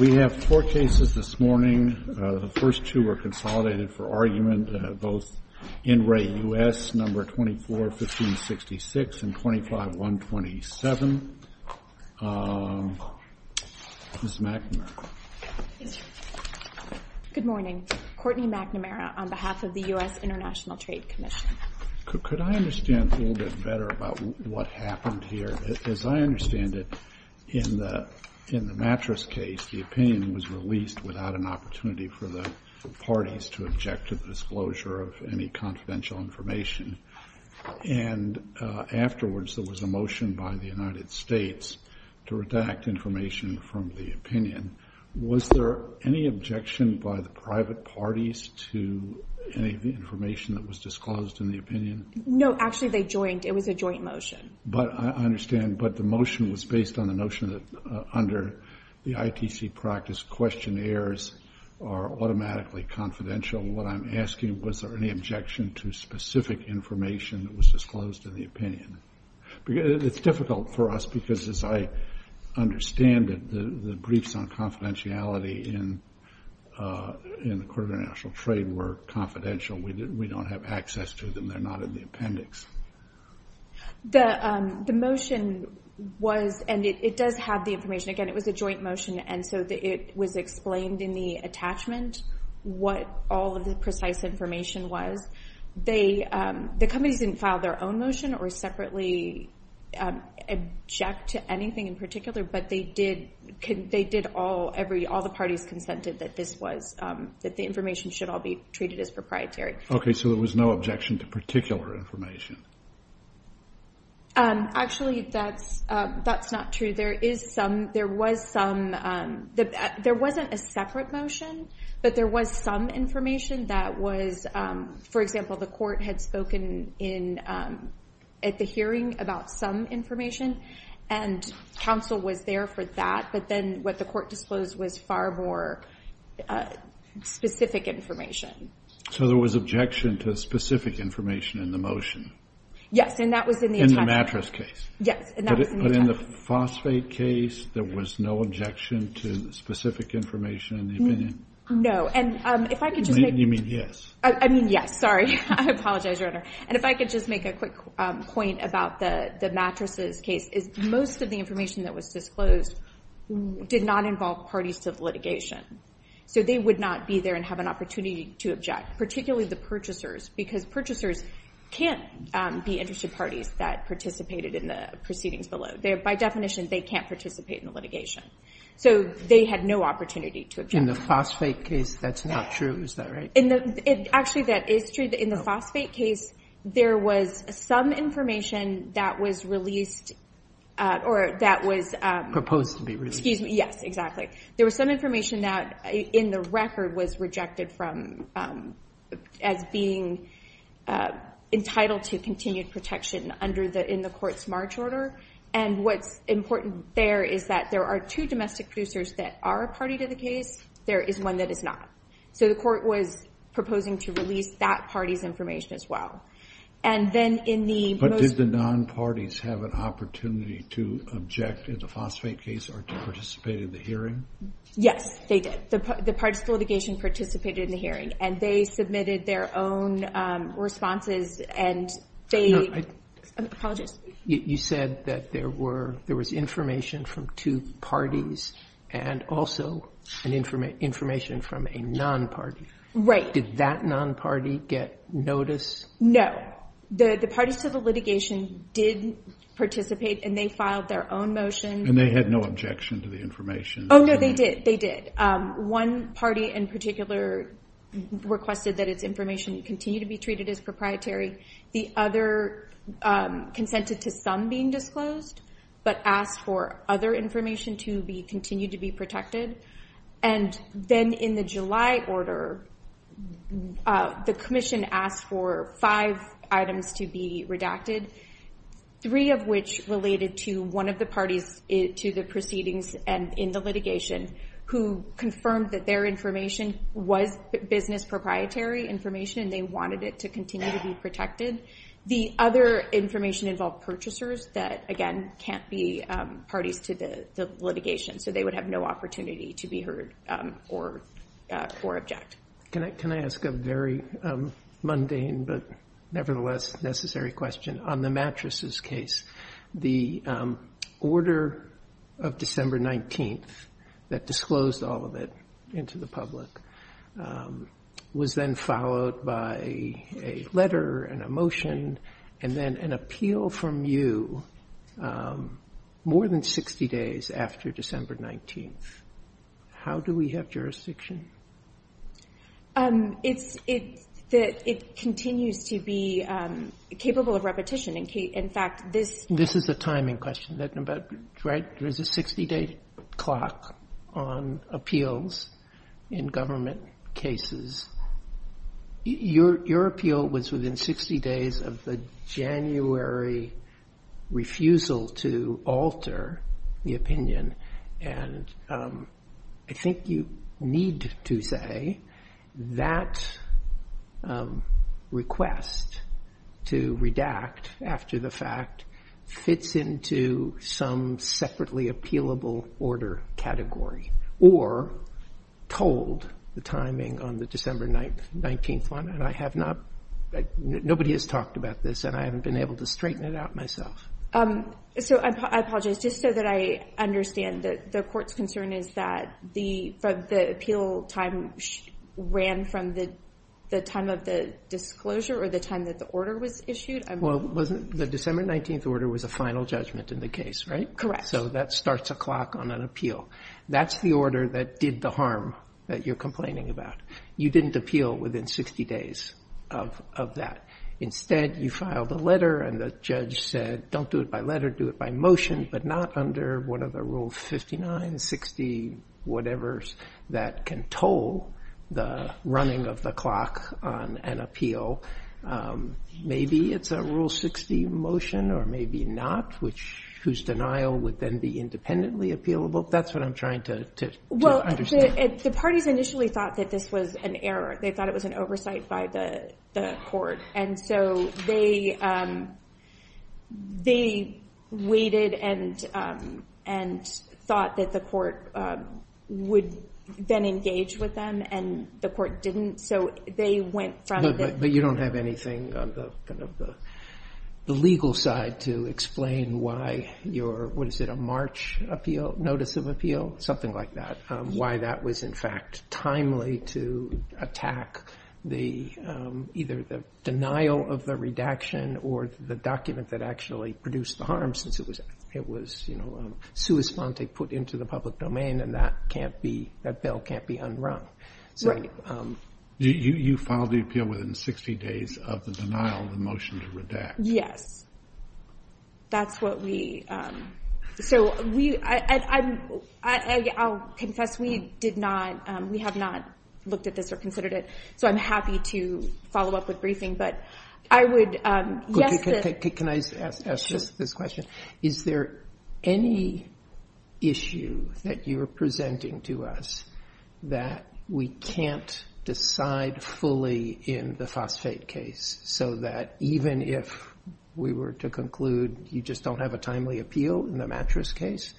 We have four cases this morning, the first two are consolidated for argument, both in Re. US, number 24-1566 and 25-127. Ms. McNamara. Good morning. Courtney McNamara on behalf of the U.S. International Trade Commission. Could I understand a little bit better about what happened here? As I understand it, in the mattress case, the opinion was released without an opportunity for the parties to object to the disclosure of any confidential information, and afterwards there was a motion by the United States to redact information from the opinion. Was there any objection by the private parties to any of the information that was disclosed in the opinion? No, actually they joined. It was a joint motion. I understand, but the motion was based on the notion that under the ITC practice, questionnaires are automatically confidential. What I'm asking, was there any objection to specific information that was disclosed in the opinion? It's difficult for us because as I understand it, the briefs on confidentiality in the Court of International Trade were confidential. We don't have access to them. They're not in the appendix. The motion was, and it does have the information, again, it was a joint motion, and so it was explained in the attachment what all of the precise information was. The companies didn't file their own motion or separately object to anything in particular, but they did, they did all, all the parties consented that this was, that the information should all be treated as proprietary. Okay, so there was no objection to particular information. Actually, that's, that's not true. There is some, there was some, there wasn't a separate motion, but there was some information that was, for example, the court had spoken in, at the hearing about some information and counsel was there for that, but then what the court disclosed was far more specific information. So there was objection to specific information in the motion? Yes, and that was in the attachment. In the mattress case? Yes, and that was in the attachment. But in the phosphate case, there was no objection to specific information in the opinion? No, and if I could just make... You mean yes? I mean yes, sorry. I apologize, Your Honor. And if I could just make a quick point about the, the mattresses case, is most of the information that was disclosed did not involve parties to the litigation, so they would not be there and have an opportunity to object, particularly the purchasers, because purchasers can't be interested parties that participated in the proceedings below. By definition, they can't participate in the litigation, so they had no opportunity to In the phosphate case, that's not true, is that right? In the, it's actually that, it's true that in the phosphate case, there was some information that was released, or that was... Proposed to be released. Yes, exactly. There was some information that, in the record, was rejected from, as being entitled to continued protection under the, in the court's March order, and what's important there is that there are two domestic producers that are a party to the case, there is one that is not. So the court was proposing to release that party's information as well. And then in the... But did the non-parties have an opportunity to object in the phosphate case or to participate in the hearing? Yes, they did. The parties to the litigation participated in the hearing, and they submitted their own responses, and they, I apologize. You said that there were, there was information from two parties, and also information from a non-party. Right. Did that non-party get notice? No. The parties to the litigation did participate, and they filed their own motions. And they had no objection to the information. Oh, no, they did, they did. One party in particular requested that its information continue to be treated as proprietary. The other consented to some being disclosed, but asked for other information to be continued to be protected. And then in the July order, the commission asked for five items to be redacted, three of which related to one of the parties to the proceedings and in the litigation, who confirmed that their information was business proprietary information, and they wanted it to continue to be protected. The other information involved purchasers that, again, can't be parties to the litigation. So they would have no opportunity to be heard or object. Can I ask a very mundane, but nevertheless necessary question? On the mattresses case, the order of December 19th that disclosed all of it into the public was then followed by a letter and a motion, and then an appeal from you more than 60 days after December 19th. How do we have jurisdiction? It continues to be capable of repetition. In fact, this is the timing question, but there's a 60-day clock on appeals in government cases. Your appeal was within 60 days of the January refusal to alter the opinion, and I think you need to say that request to redact after the fact fits into some separately appealable order category, or told the timing on the December 19th one, and I have not, nobody has talked about this, and I haven't been able to straighten it out myself. I apologize. Just so that I understand, the court's concern is that the appeal time ran from the time of the disclosure or the time that the order was issued? Well, the December 19th order was a final judgment in the case, right? Correct. So that starts a clock on an appeal. That's the order that did the harm that you're complaining about. You didn't appeal within 60 days of that. Instead, you filed a letter, and the judge said, don't do it by letter, do it by motion, but not under one of the rules 59, 60, whatever, that can toll the running of the clock on an appeal. Maybe it's a rule 60 motion, or maybe not, whose denial would then be independently appealable? That's what I'm trying to understand. Well, the parties initially thought that this was an error. They thought it was an oversight by the court, and so they waited and thought that the court would then engage with them, and the court didn't, so they went from the... But you don't have anything on the legal side to explain why your, what is it, a March notice of appeal? Something like that. Why that was, in fact, timely to attack either the denial of the redaction or the document that actually produced the harm, since it was, you know, a sui sponte put into the public domain, and that can't be, that bill can't be unwrung. Right. So you filed the appeal within 60 days of the denial of the motion to redact? Yes. That's what we, so we, I'll confess, we did not, we have not looked at this or considered it, so I'm happy to follow up with briefing, but I would, yes, this... Can I ask just the question, is there any issue that you're presenting to us that we can't decide fully in the phosphate case, so that even if we were to conclude you just don't have a timely appeal in the mattress case,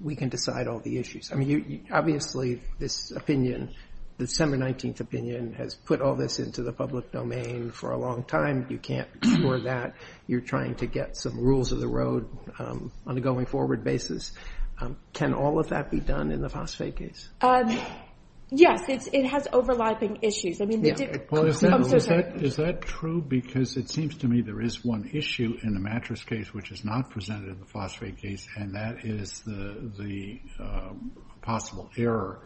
we can decide all the issues? I mean, obviously, this opinion, the 719th opinion has put all this into the public domain for a long time. You can't ignore that. You're trying to get some rules of the road on a going forward basis. Can all of that be done in the phosphate case? Yes, it has overlapping issues. I mean... Well, is that true, because it seems to me there is one issue in the mattress case which is not presented in the phosphate case, and that is the possible error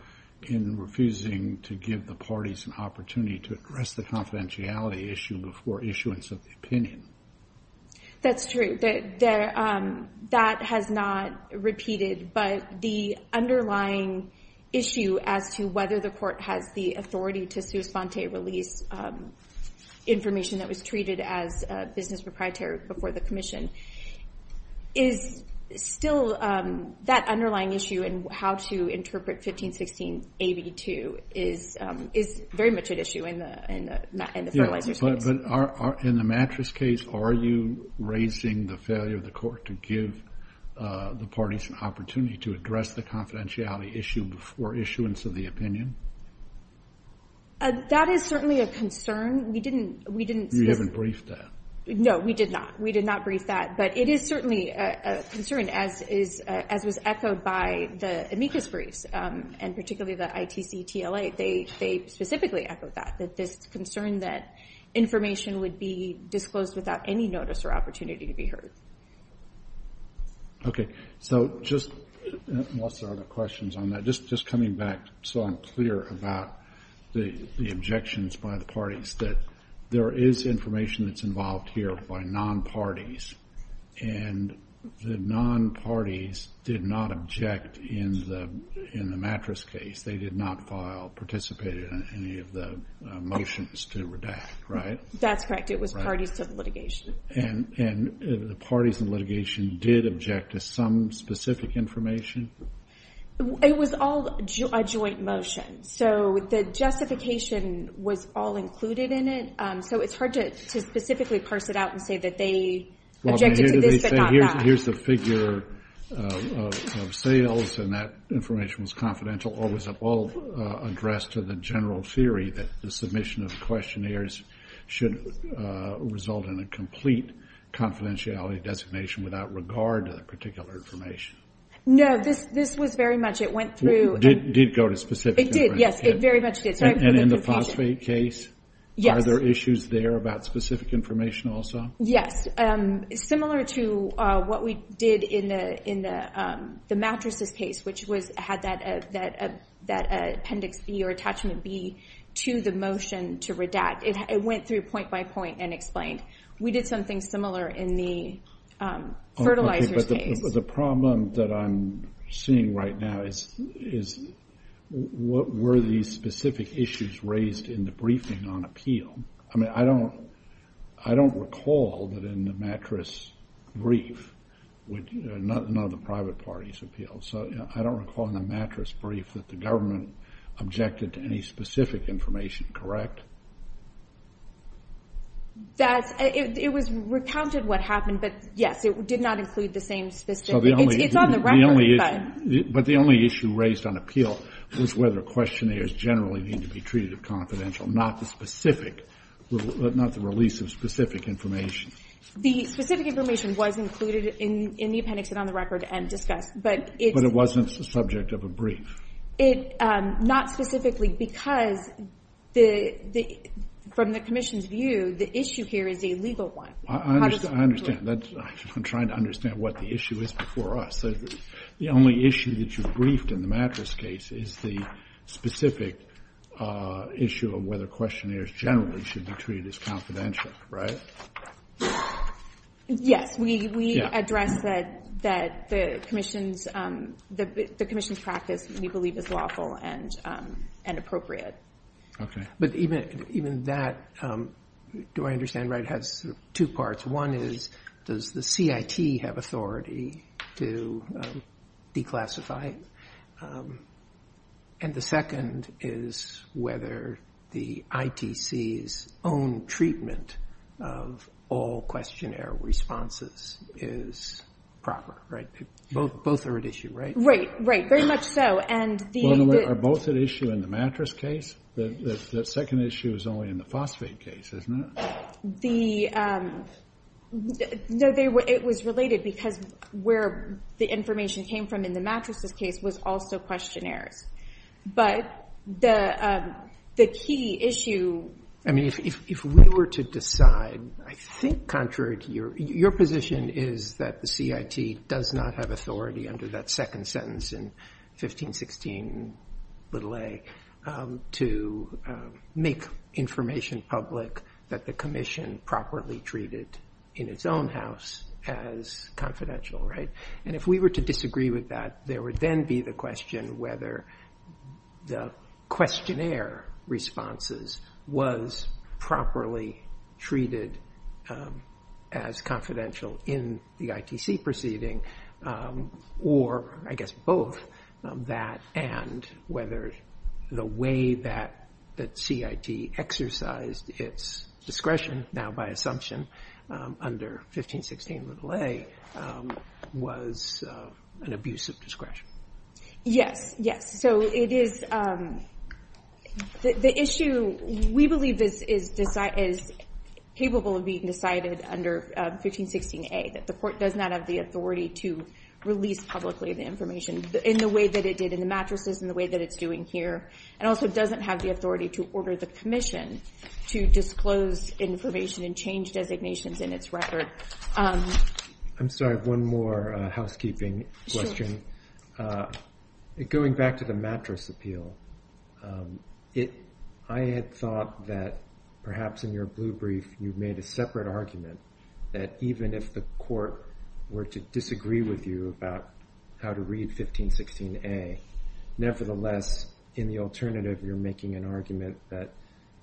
in refusing to give the parties an opportunity to address the confidentiality issue before issuance of the opinion. That's true, but that has not repeated, but the underlying issue as to whether the court has the authority to do phosphate release information that was treated as business proprietary before the commission is still... That underlying issue in how to interpret 1516 AB2 is very much an issue in the phosphate case. Yes, but in the mattress case, are you raising the failure of the court to give the parties an opportunity to address the confidentiality issue before issuance of the opinion? That is certainly a concern. We didn't... You haven't briefed that. No, we did not. We did not brief that, but it is certainly a concern, as was echoed by the amicus briefs, and particularly the ITC-TLA. They specifically echoed that, that this concern that information would be disclosed without any notice or opportunity to be heard. Okay. So, just... I lost a lot of questions on that. Just coming back so I'm clear about the objections by the parties that there is information that's involved here by non-parties, and the non-parties did not object in the mattress case. They did not file, participate in any of the motions to redact, right? That's correct. It was parties to the litigation. And the parties in litigation did object to some specific information? It was all a joint motion. So, the justification was all included in it. So, it's hard to specifically parse it out and say that they objected to this, but not that. Here's the figure of sales, and that information was confidential, or was it all addressed to the general theory that the submission of the questionnaires should result in a complete confidentiality designation without regard to the particular information? No, this was very much... It went through... Did it go to specific information? It did, yes. It very much did. And in the phosphate case? Yes. And are there issues there about specific information also? Yes. Similar to what we did in the mattresses case, which had that appendix B or attachment B to the motion to redact, it went through point by point and explained. We did something similar in the fertilizer case. The problem that I'm seeing right now is, what were the specific issues raised in the reasoning on appeal? I mean, I don't recall that in the mattress brief, none of the private parties appealed. So, I don't recall in the mattress brief that the government objected to any specific information, correct? That... It was recounted what happened, but yes, it did not include the same... So, the only... It's on the record, but... But the only issue raised on appeal was whether questionnaires generally need to be treated as confidential, not the specific... Not the release of specific information. The specific information was included in the appendix and on the record and discussed, but it... But it wasn't the subject of a brief. It... Not specifically, because from the commission's view, the issue here is a legal one. I understand. I'm trying to understand what the issue is before us. The only issue that you briefed in the mattress case is the specific issue of whether questionnaires generally should be treated as confidential, right? Yes. We addressed that the commission's practice, we believe, is lawful and appropriate. Okay. But even that, do I understand right, has two parts. One is, does the CIT have authority to declassify? And the second is whether the ITC's own treatment of all questionnaire responses is proper, right? Both are at issue, right? Right. Right. Very much so. And the... Are both at issue in the mattress case? The second issue is only in the phosphate case, isn't it? Yes. The... No, it was related because where the information came from in the mattress case was also questionnaire. But the key issue... I mean, if we were to decide, I think, Contrary, your position is that the CIT does not have authority under that second sentence in 1516a to make information public that the commission properly treated in its own house as confidential, right? And if we were to disagree with that, there would then be the question whether the questionnaire responses was properly treated as confidential in the ITC proceeding or, I guess, both of that and whether the way that the CIT exercised its discretion, now by assumption, under 1516a was an abuse of discretion. Yes. Yes. So, it is... The issue... We believe this is capable of being decided under 1516a, that the court does not have the authority to release publicly the information in the way that it did in the mattresses and the way that it's doing here and also doesn't have the authority to order the commission to disclose information and change designations in its record. I'm sorry, one more housekeeping question. Okay. Going back to the mattress appeal, I had thought that perhaps in your blue brief you made a separate argument that even if the court were to disagree with you about how to read 1516a, nevertheless, in the alternative, you're making an argument that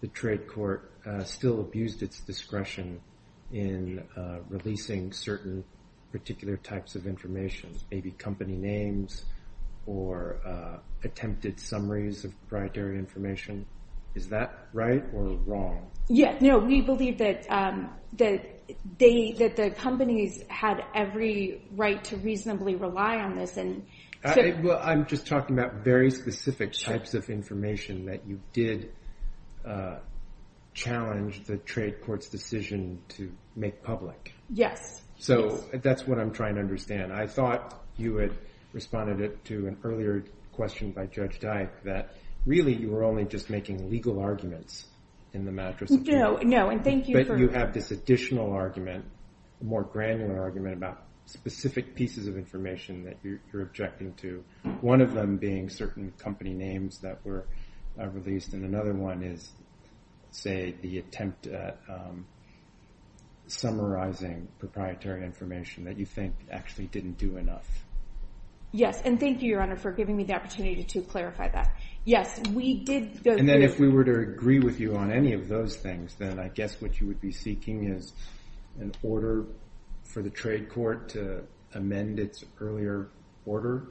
the trade court still abused its discretion in releasing certain particular types of information, maybe company names or attempted summaries of proprietary information. Is that right or wrong? Yes. No, we believe that the companies had every right to reasonably rely on this and... Well, I'm just talking about very specific types of information that you did challenge the trade court's decision to make public. Yes. So, that's what I'm trying to understand. I thought you had responded to an earlier question by Judge Dyke that really you were only just making legal arguments in the mattress appeal. No, no, and thank you for... But you have this additional argument, a more granular argument about specific pieces of information that you're objecting to, one of them being certain company names that were released and another one is, say, the attempt at summarizing proprietary information that you think actually didn't do enough. Yes, and thank you, Your Honor, for giving me the opportunity to clarify that. Yes, we did... And then if we were to agree with you on any of those things, then I guess what you would be seeking is an order for the trade court to amend its earlier order?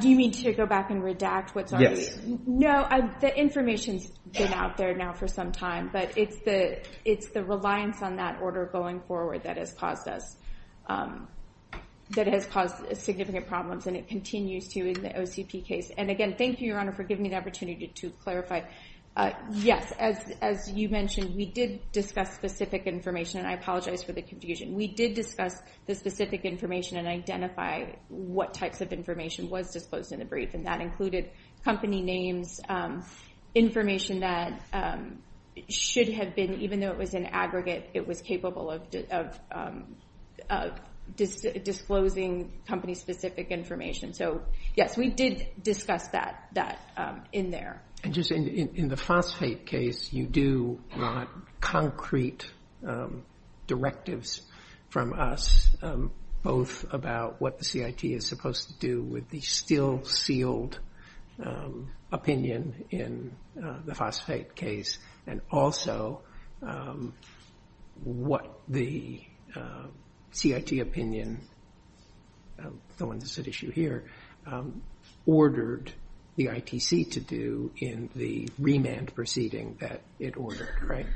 Do you mean to go back and redact what's already... No, the information's been out there now for some time, but it's the reliance on that order going forward that has caused us... That has caused significant problems and it continues to in the OTP case. And again, thank you, Your Honor, for giving me the opportunity to clarify. Yes, as you mentioned, we did discuss specific information, and I apologize for the confusion. We did discuss the specific information and identify what types of information was disclosed in the brief, and that included company names, information that should have been... Even though it was an aggregate, it was capable of disclosing company-specific information. So, yes, we did discuss that in there. And just in the phosphate case, you do want concrete directives from us, both about what the CIT is supposed to do with the still-sealed opinion in the phosphate case, and also what the CIT opinion, the one that's at issue here, ordered the ITC to do in the remand proceeding that it ordered, right?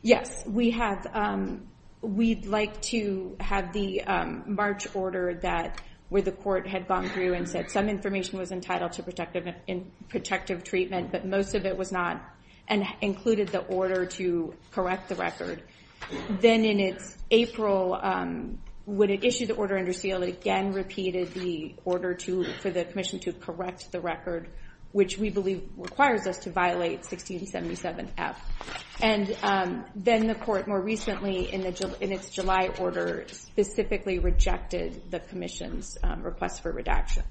Yes, we'd like to have the March order where the court had gone through and said some information was entitled to protective treatment, but most of it was not, and included the order to correct the record. Then in April, when it issued the order under seal, it again repeated the order for the commission to correct the record, which we believe requires us to violate 1677F. And then the court, more recently, in its July order, specifically rejected the commission's request for redaction.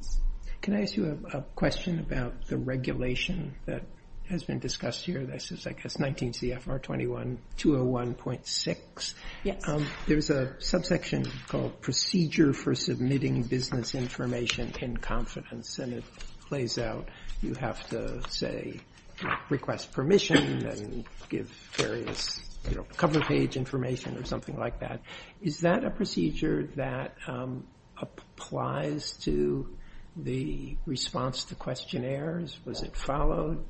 Can I ask you a question about the regulation that has been discussed here? This is, I guess, 19 CFR 21-201.6. There's a subsection called Procedure for Submitting Business Information in Confidence, and it plays out, you have to, say, request permission and give various cover page information or something like that. Is that a procedure that applies to the response to questionnaires? Was it followed?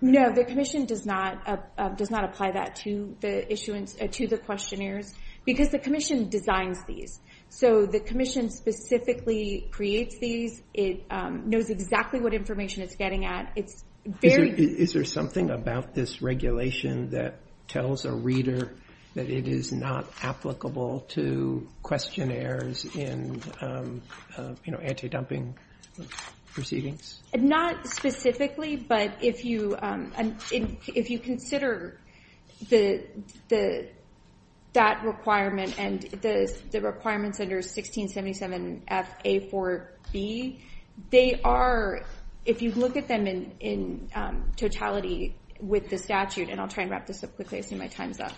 No, the commission does not apply that to the questionnaires because the commission designs these. So the commission specifically creates these, knows exactly what information it's getting at. Is there something about this regulation that tells a reader that it is not applicable to questionnaires in anti-dumping proceedings? Not specifically, but if you consider that requirement and the requirements under 1677FA4B, they are, if you look at them in totality with the statute, and I'll try and wrap this up quickly, I see my time's up.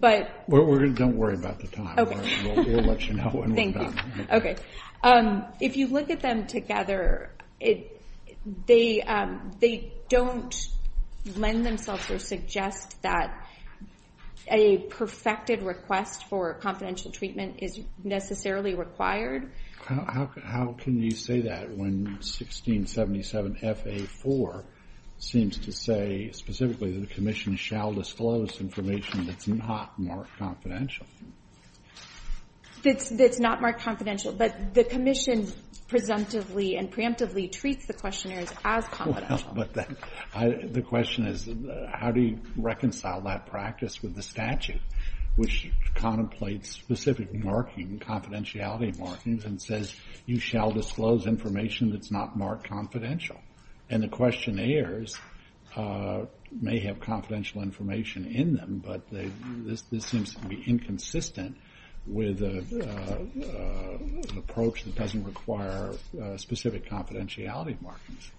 Don't worry about the time. We'll let you know when we're done. If you look at them together, they don't lend themselves or suggest that a perfected request for confidential treatment is necessarily required. How can you say that when 1677FA4 seems to say specifically that the commission shall disclose information that's not marked confidential? That's not marked confidential, but the commission presumptively and preemptively treats the questionnaires as confidential. The question is, how do you reconcile that practice with the statute, which contemplates specific marking, confidentiality markings, and says you shall disclose information that's not marked confidential? And the questionnaires may have confidential information in them, but this seems to be inconsistent with an approach that doesn't require specific confidentiality markings.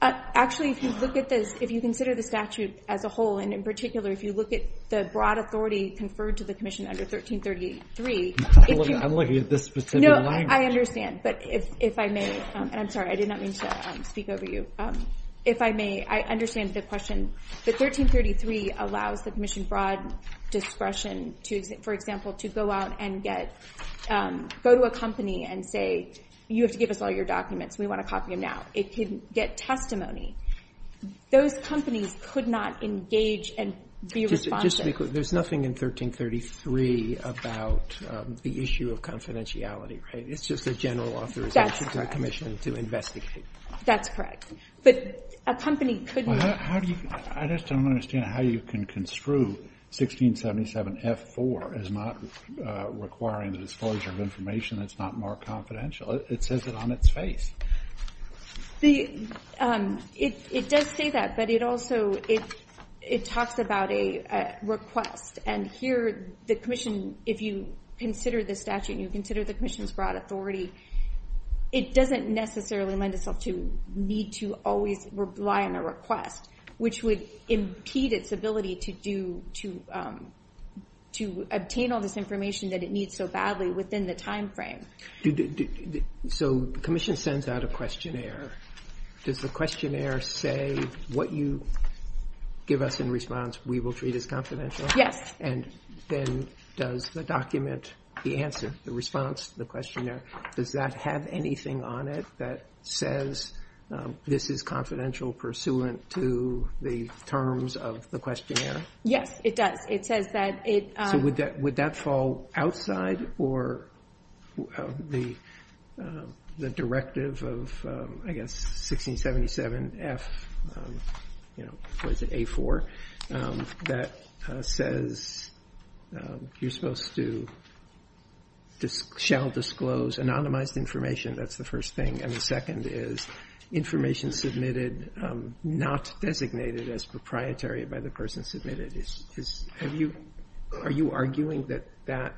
Actually, if you consider the statute as a whole, and in particular, if you look at the broad authority conferred to the commission under 1333... I'm looking at this specific language. No, I understand, but if I may, and I'm sorry, I did not mean to speak over you. If I may, I understand the question. But 1333 allows the commission broad discretion, for example, to go out and get... go to a company and say, you have to give us all your documents, we want to copy them now. It could get testimony. Those companies could not engage and be responsive. Just to be clear, there's nothing in 1333 about the issue of confidentiality, right? It's just a general authorization for the commission to investigate. That's correct. But a company could... I just don't understand how you can construe 1677F4 as not requiring the disclosure of information that's not marked confidential. It says it on its face. It does say that, but it also... it talks about a request. And here, the commission, if you consider the statute, and you consider the commission's broad authority, it doesn't necessarily lend itself to need to always rely on a request, which would impede its ability to do... to obtain all this information that it needs so badly within the time frame. So the commission sends out a questionnaire. Does the questionnaire say what you give us in response, we will treat as confidential? Yes. And then does the document, the answer, the response to the questionnaire, does that have anything on it that says this is confidential pursuant to the terms of the questionnaire? Yes, it does. It says that it... So would that fall outside or the directive of, I guess, 1677F... or is it A4? That says you're supposed to... shall disclose anonymized information. That's the first thing. And the second is information submitted not designated as proprietary by the person submitted. Are you arguing that that...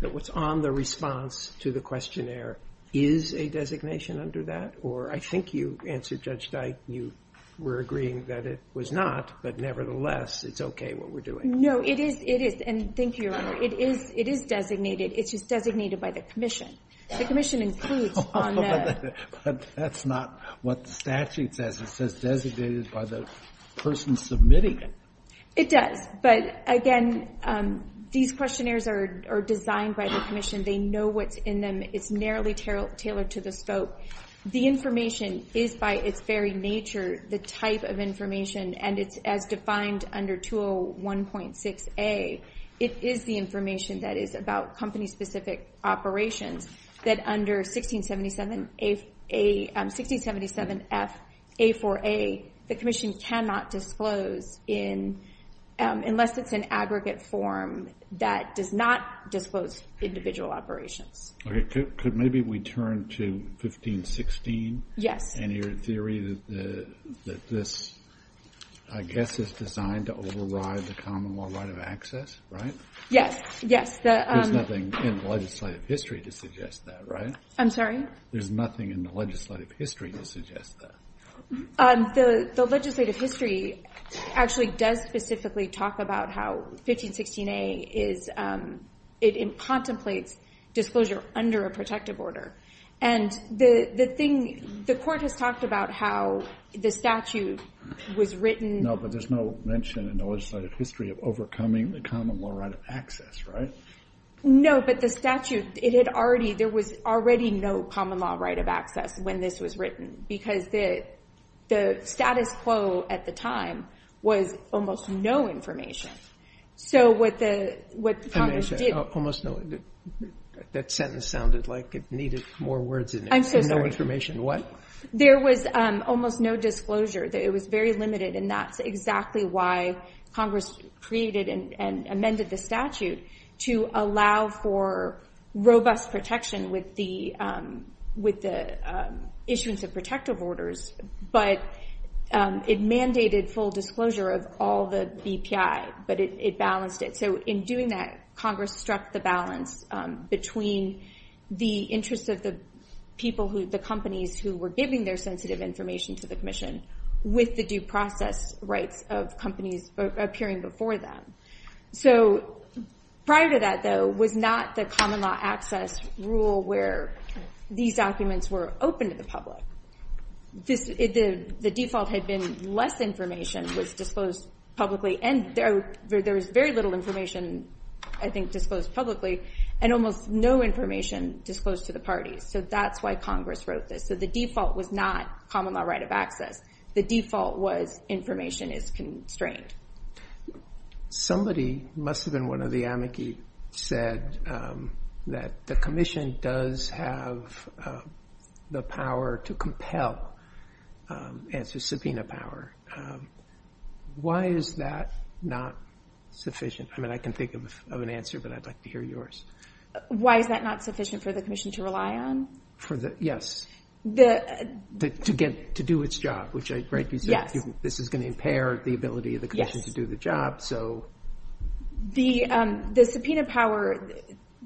that what's on the response to the questionnaire is a designation under that? Or I think you answered, Judge Dyke, that you were agreeing that it was not, but nevertheless, it's okay what we're doing. No, it is, it is, and thank you. It is designated. It is designated by the commission. The commission includes on the... But that's not what the statute says. It says it is by the person submitting it. It does, but again, these questionnaires are designed by the commission. They know what's in them. It's narrowly tailored to the scope. The information is by its very nature the type of information, and it's as defined under 201.6A. It is the information that is about company-specific operations that under 1677A... 1677F A4A, the commission cannot disclose in... unless it's an aggregate form that does not disclose individual operations. Okay, could maybe we turn to 1516? And your theory that this, I guess, is designed to override the common law right of access, right? Yes, yes. There's nothing in the legislative history to suggest that, right? I'm sorry? There's nothing in the legislative history to suggest that. The legislative history actually does specifically talk about how 1516A is... it incontemplates disclosure under a protective order. And the thing... the court has talked about how the statute was written... No, but there's no mention in the legislative history of overcoming the common law right of access, right? No, but the statute, it had already... there was already no common law right of access when this was written, because the status quo at the time was almost no information. So what the... what Congress did... Almost no... that sentence sounded like it needed more words and no information. What? There was almost no disclosure. It was very limited, and that's exactly why Congress created and amended the statute to allow for robust protection with the issues of protective orders, but it mandated full disclosure of all the BPI, but it balanced it. So in doing that, Congress struck the balance between the interests of the people who... the companies who were giving their sensitive information to the Commission with the due process rights of companies appearing before them. So prior to that, though, was not the common law access rule where these documents were open to the public. The default had been less information was disclosed publicly, and there was very little information I think disclosed publicly, and almost no information disclosed to the parties. So that's why Congress wrote this. So the default was not common law right of access. The default was information is constrained. Somebody must have been one of the amici said that the Commission does have the power to answer subpoena power. Why is that not sufficient? I can think of an answer, but I'd like to hear yours. Why is that not sufficient for the Commission to rely on? Yes. To do its job. This is going to impair the ability of the Commission to do the job. The subpoena power...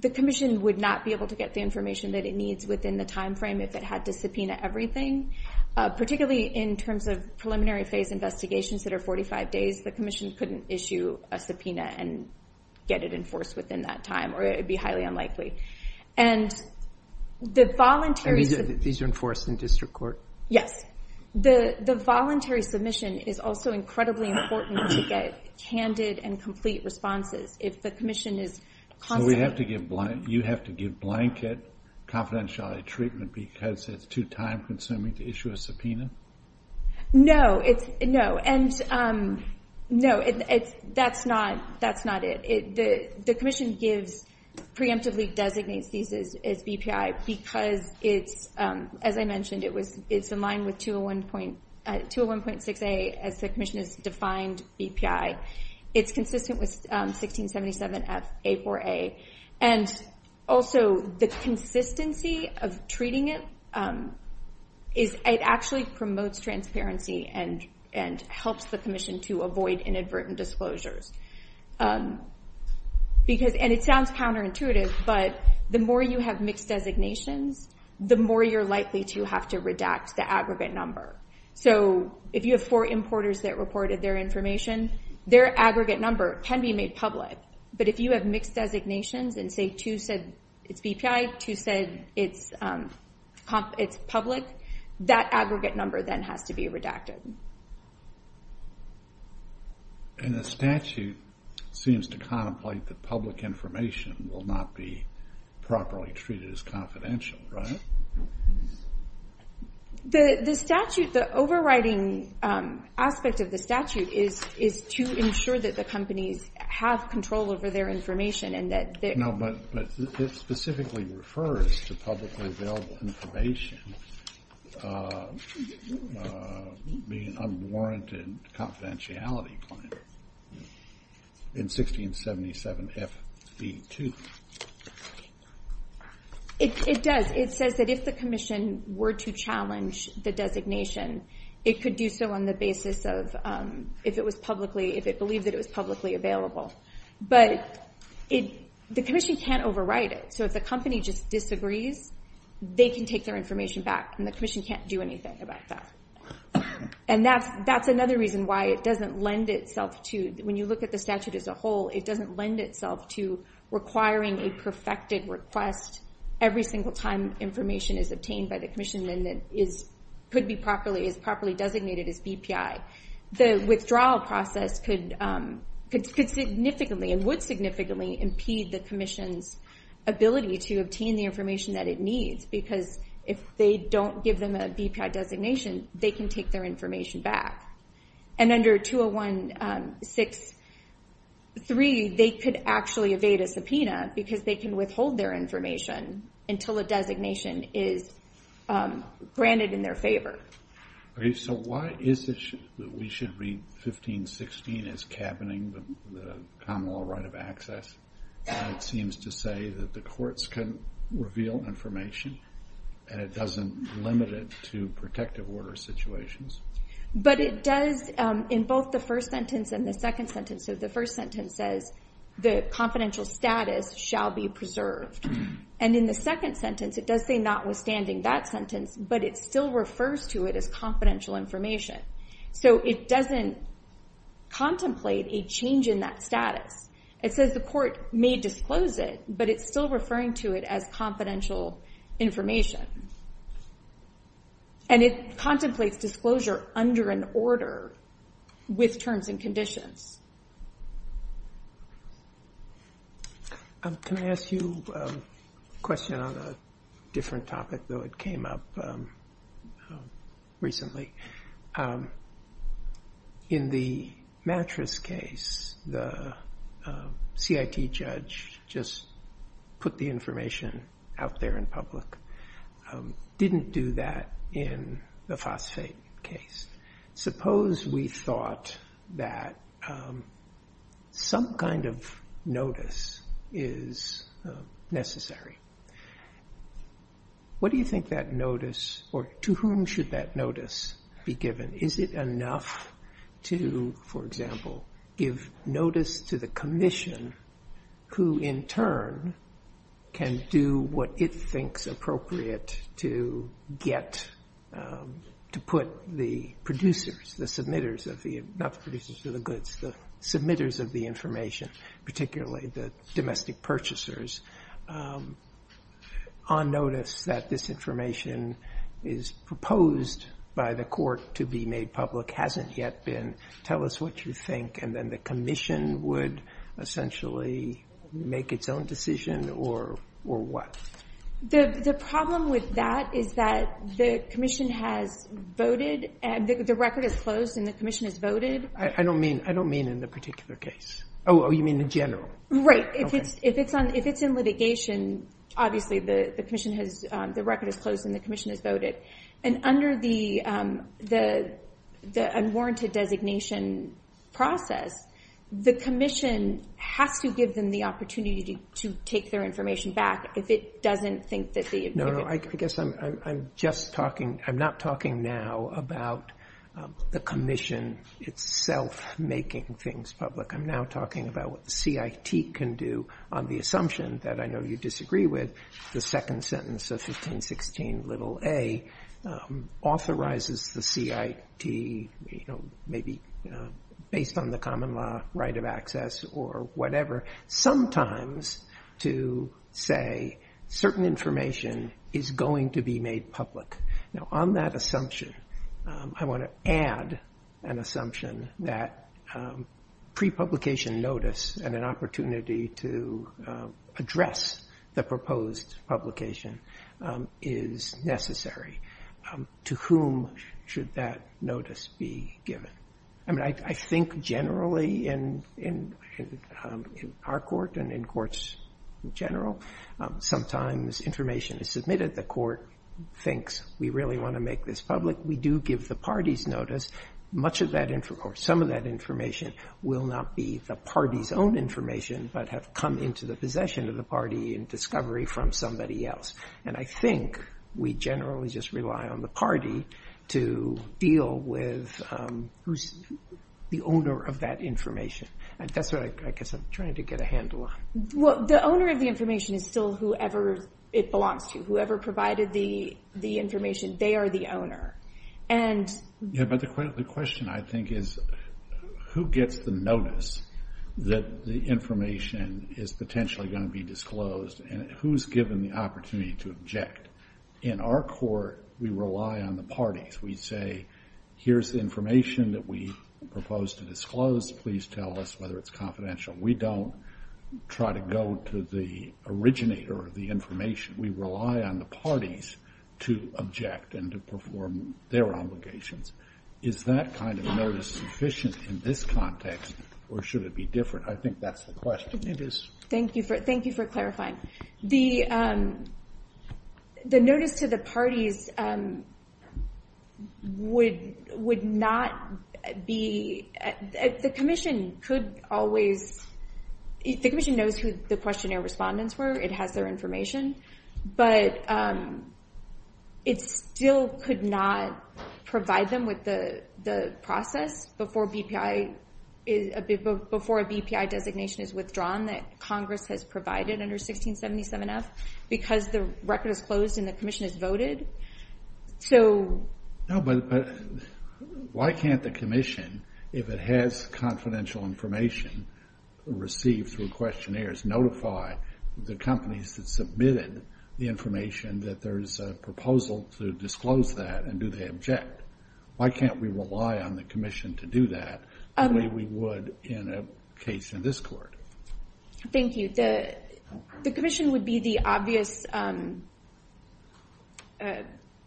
the Commission would not be able to get the information that it needs within the time frame if it had to subpoena everything. Particularly in terms of preliminary phase investigations that are 45 days, the Commission couldn't issue a subpoena and get it enforced within that time, or it would be highly unlikely. And the voluntary... Yes. The voluntary submission is also incredibly important to get candid and complete responses. If the Commission is... You have to give blanket confidentiality treatment because it's too time-consuming to issue a No. No. That's not it. The Commission preemptively designates these as BPI because, as I mentioned, it's in line with 201.6A as the Commission has defined BPI. It's consistent with 1677 FA4A. And also the consistency of treating it actually promotes transparency and helps the Commission to avoid inadvertent disclosures. And it sounds counterintuitive, but the more you have mixed designations, the more you're likely to have to redact the aggregate number. So, if you have four importers that reported their information, their aggregate number can be made public. But if you have mixed designations and, say, two said it's BPI, two said it's public, that aggregate number then has to be redacted. And the statute seems to contemplate that public information will not be properly treated as confidential, right? The statute, the overriding aspect of the statute is to ensure that the companies have control over their information. No, but it specifically refers to publicly available information being unwarranted confidentiality. In 1677 FB2. It does. It says that if the Commission were to challenge the designation, it could do so on the basis of, if it was publicly available. But the Commission can't overwrite it. So, if a company just disagrees, they can take their information back and the Commission can't do anything about that. And that's another reason why it doesn't lend itself to when you look at the statute as a whole, it doesn't lend itself to requiring a perfected request every single time information is obtained by the Commission and is properly designated as BPI. The withdrawal process could significantly and would significantly impede the Commission's ability to obtain the information that it needs because if they don't give them a BPI designation, they can take their information back. And under 201-6-3 they could actually evade a subpoena because they can withhold their information until a designation is granted in their favor. Okay, so why is it that we should read 15-16 as cabining the common law right of access when it seems to say that the courts can reveal information and it doesn't limit it to protective order situations? But it does in both the first sentence and the second sentence the first sentence says the confidential status shall be preserved. And in the second sentence it does say notwithstanding that sentence, but it still refers to it as confidential information. So it doesn't contemplate a change in that status. It says the court may disclose it, but it's still referring to it as confidential information. And it contemplates disclosure under an order with terms and conditions. Can I ask you a question on a different topic, though it came up recently. In the mattress case the CIT judge just put the information out there in public. Didn't do that in the phosphate case. Suppose we thought that some kind of notice is necessary. What do you think that notice or to whom should that notice be given? Is it enough to, for example, give notice to the commission who in turn can do what it thinks appropriate to get to put the producers the submitters of the the submitters of the information, particularly the domestic purchasers on notice that this information is proposed by the court to be made public hasn't yet been. Tell us what you think. And then the commission would essentially make its own decision or what? The problem with that is that the commission has voted. The record is closed and the commission has voted. I don't mean in the particular case. Oh, you mean in general. Right. If it's in litigation, obviously the commission has, the record is closed and the commission has voted. And under the unwarranted designation process, the commission has to give them the opportunity to take their information back if it doesn't think that the No, I guess I'm just talking I'm not talking now about the commission itself making things public. I'm now talking about what the CIT can do on the assumption that I know you disagree with the second sentence of 1516a authorizes the CIT maybe based on the common law right of access or whatever, sometimes to say certain information is going to be made public. On that assumption, I want to add an assumption that prepublication notice and an opportunity to address the proposed publication is necessary. To whom should that notice be given? I think generally in our court and in courts in general, sometimes information is submitted. The court thinks we really want to make this public. We do give the parties notice. Much of that information will not be the party's own information but have come into the possession of the party in discovery from somebody else. I think we generally just rely on the party to deal with who's the owner of that information. I'm trying to get a handle on it. The owner of the information is still whoever it belongs to. Whoever provided the information, they are the owner. The question I think is who gets the notice that the information is potentially going to be disclosed and who's given the opportunity to object? In our court we rely on the parties. We say, here's the information that we propose to disclose. Please tell us whether it's confidential. We don't try to go to the originator of the information. We rely on the parties to object and to perform their obligations. Is that kind of notice sufficient in this context or should it be different? I think that's the question. Thank you for clarifying. The notice to the parties would not be... The commission knows who the questionnaire respondents were. It has their information. It still could not provide them with the process before a BPI designation is withdrawn that Congress has provided under 1677F because the record is closed and the commission has voted. Why can't the commission if it has confidential information received through questionnaires notify the companies that submitted the information that there's a proposal to disclose that and do they object? Why can't we rely on the commission to do that the way we would in a case in this court? Thank you. The commission would be the obvious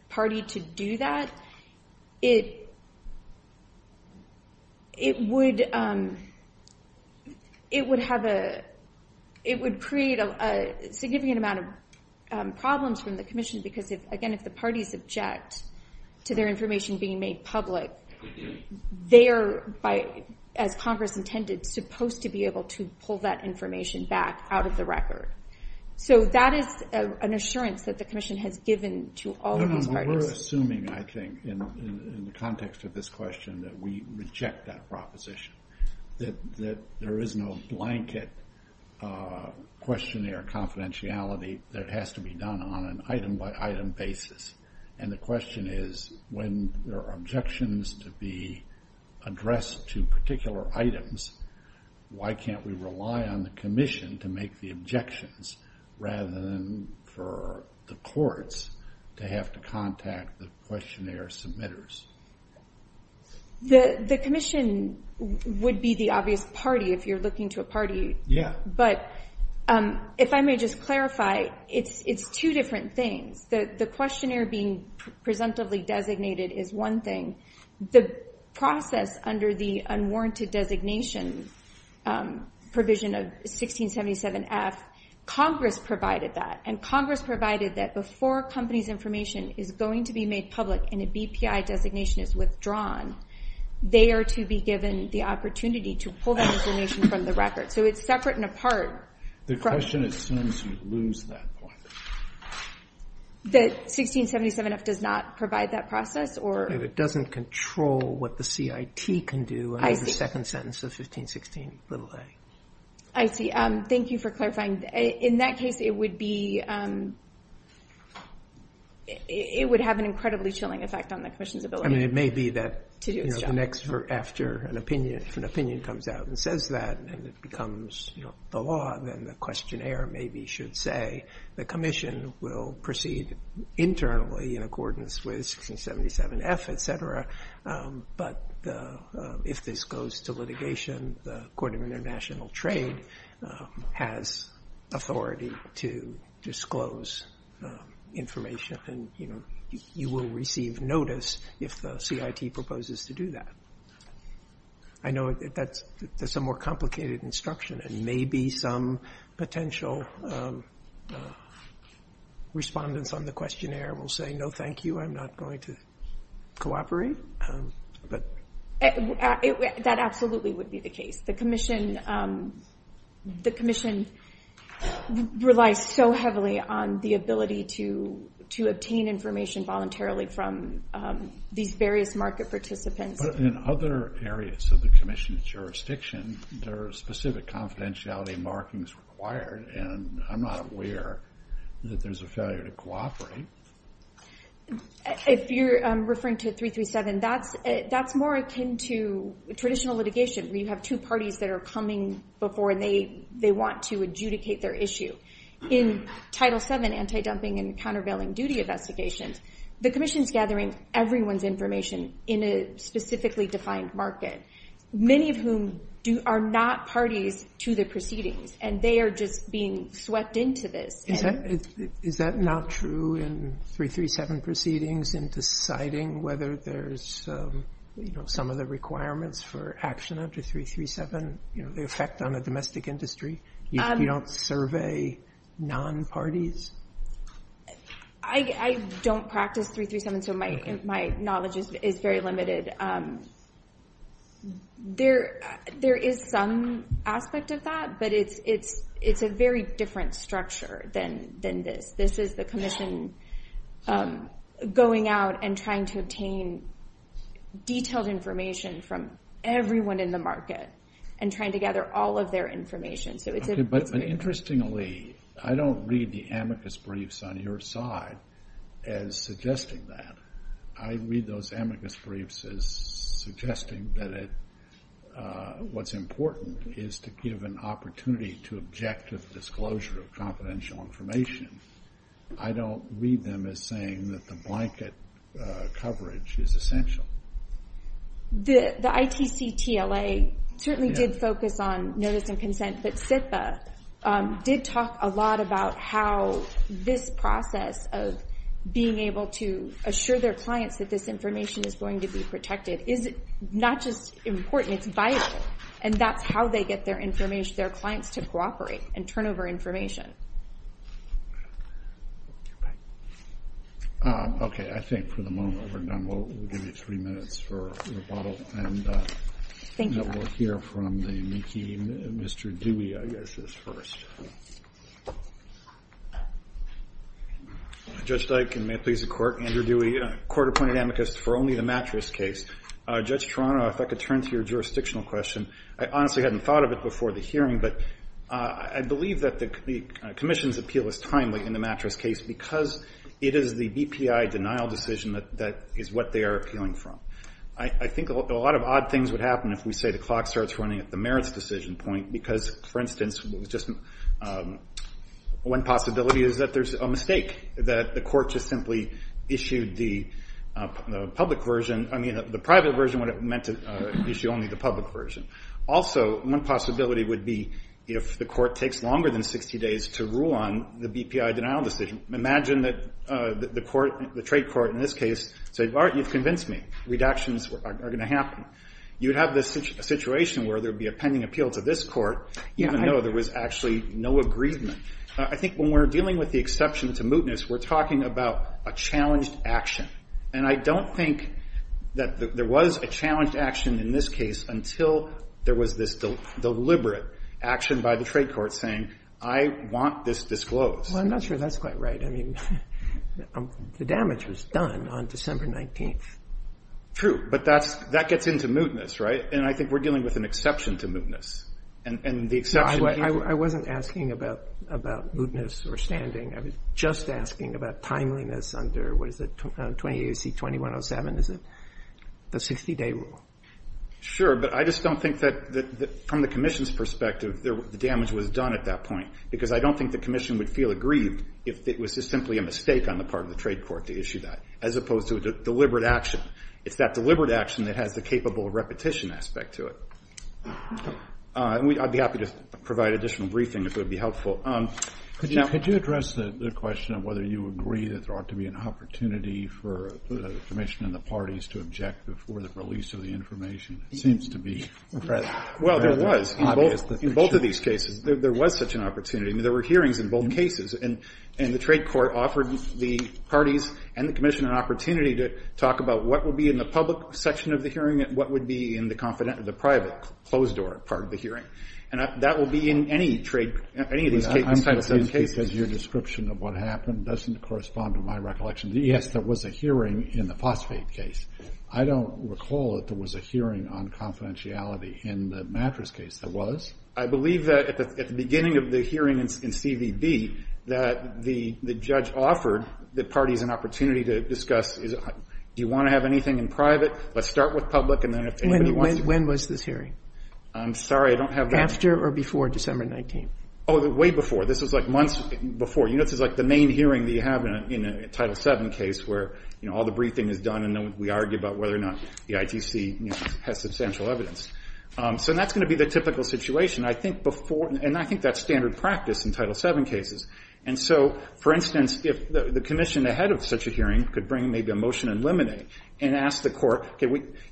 party to do that. would have it would create a significant amount of problems from the commission because if the parties object to their information being made public they are as Congress intended supposed to be able to pull that information back out of the record. That is an assurance that the commission has given to all the parties. We're assuming I think in the context of this question that we reject that proposition. There is no blanket questionnaire confidentiality that has to be done on an item by item basis and the question is when there are objections to be addressed to particular items why can't we rely on the commission to make the objections rather than for the courts to have to contact the questionnaire submitters? The commission would be the obvious party if you're looking to a party but if I may just clarify it's two different things. The questionnaire being presumptively designated is one thing. The process under the unwarranted designation provision of 1677F, Congress provided that and Congress provided that before companies information is going to be made public and a BPI designation is withdrawn they are to be given the opportunity to pull that information from the record. So it's separate and apart. The question assumes we lose that point. The 1677F does not provide that process? It doesn't control what the CIT can do. The second sentence of 1516a. I see. Thank you for clarifying. In that case it would be it would have an incredibly chilling effect on the commission's ability. It may be that after an opinion comes out and says that and it becomes the law then the questionnaire maybe should say the commission will proceed internally in accordance with 1677F etc. But if this goes to litigation the court of international trade has authority to disclose information and you will receive notice if the CIT proposes to do that. I know that's a more complicated instruction and maybe some potential respondents on the questionnaire will say no thank you I'm not going to cooperate. That absolutely would be the case. The commission relies so heavily on the ability to obtain information voluntarily from these various market participants. In other areas of the commission's jurisdiction there are specific confidentiality markings required and I'm not aware that there's a failure to cooperate. If you're referring to 337 that's more akin to traditional litigation. You have two parties that are coming before and they want to adjudicate their issue. In Title 7 anti-dumping and countervailing duty investigations the commission is gathering everyone's information in a specifically defined market. Many of whom are not parties to the proceedings and they are just being swept into this. Is that not true in 337 proceedings in deciding whether there's some of the requirements for action under 337? The effect on the domestic industry if you don't survey non-parties? I don't practice 337 so my knowledge is very limited. There is some aspect of that but it's a very different structure than this. This is the commission going out and trying to obtain detailed information from everyone in the market and trying to gather all of their information. Interestingly, I don't read the amicus briefs on your side as suggesting that. I read those amicus briefs as suggesting that what's important is to give an opportunity to objective disclosure of confidential information. I don't read them as saying that the blanket coverage is essential. The ITC TLA certainly did focus on notice and consent but CISA did talk a lot about how this process of being able to assure their clients that this information is going to be protected is not just important, it's vital and that's how they get their clients to cooperate and turn over information. Okay, I think for the moment we're done. We'll give you three minutes for rebuttal. Thank you. We'll hear from Mr. Dewey I guess is first. Judge Steit, can I please the court? Andrew Dewey, a court-appointed amicus for only the mattress case. Judge Toronto, if I could turn to your jurisdictional question. I honestly hadn't thought of it before the hearing but I believe that the commission's appeal is timely in the mattress case because it is the DPI denial decision that is what they are appealing from. I think a lot of odd things would happen if we say the clock starts running at the merits decision point because for instance one possibility is that there's a mistake that the court just simply issued the public version, I mean the private version when it meant to issue only the public version. Also, one possibility would be if the court takes longer than 60 days to rule on the DPI denial decision. Imagine that the court the trade court in this case says, you've convinced me, redactions are going to happen. You have this situation where there would be a pending appeal to this court even though there was actually no agreement. I think when we're dealing with the exception to mootness, we're talking about a challenged action and I don't think that there was a challenged action in this case until there was this deliberate action by the trade court saying, I want this disclosed. Well, I'm not sure that's quite right. I mean, the damage was done on December 19th. True, but that gets into mootness, right? And I think we're dealing with an exception to mootness. I wasn't asking about mootness or standing. I was just asking about timeliness under, what is it, 28 AC 2107, is it? The 60 day rule. Sure, but I just don't think that from the commission's perspective the damage was done at that point because I don't think the commission would feel aggrieved if it was just simply a mistake on the part of the trade court to issue that as opposed to the deliberate action. It's that deliberate action that has the capable repetition aspect to it. I'd be happy to provide additional briefing if it would be helpful. Could you address the question of whether you agree that there ought to be an opportunity for the commission and the parties to object before the release of the information? It seems to be... Well, there was. In both of these cases, there was such an opportunity. There were hearings in both cases and the trade court offered the parties and the commission an opportunity to talk about what would be in the public section of the hearing and what would be in the private closed door part of the hearing. And that will be in any trade case. Your description of what happened doesn't correspond to my recollection. Yes, there was a hearing in the phosphate case. I don't recall that there was a hearing on confidentiality in the mattress case. There was. I believe that at the beginning of the hearing in CVB that the judge offered the parties an opportunity to discuss do you want to have anything in private? Let's start with public and then... When was this hearing? I'm sorry, I don't have... After or before December 19th? Oh, way before. This was like months before. This was like the main hearing that you have in a Title VII case where all the briefing is done and then we argue about whether or not the ITC has substantial evidence. That's going to be the typical situation. I think that's standard practice in Title VII cases. For instance, if the commission ahead of such a hearing could bring maybe a motion and eliminate and ask the court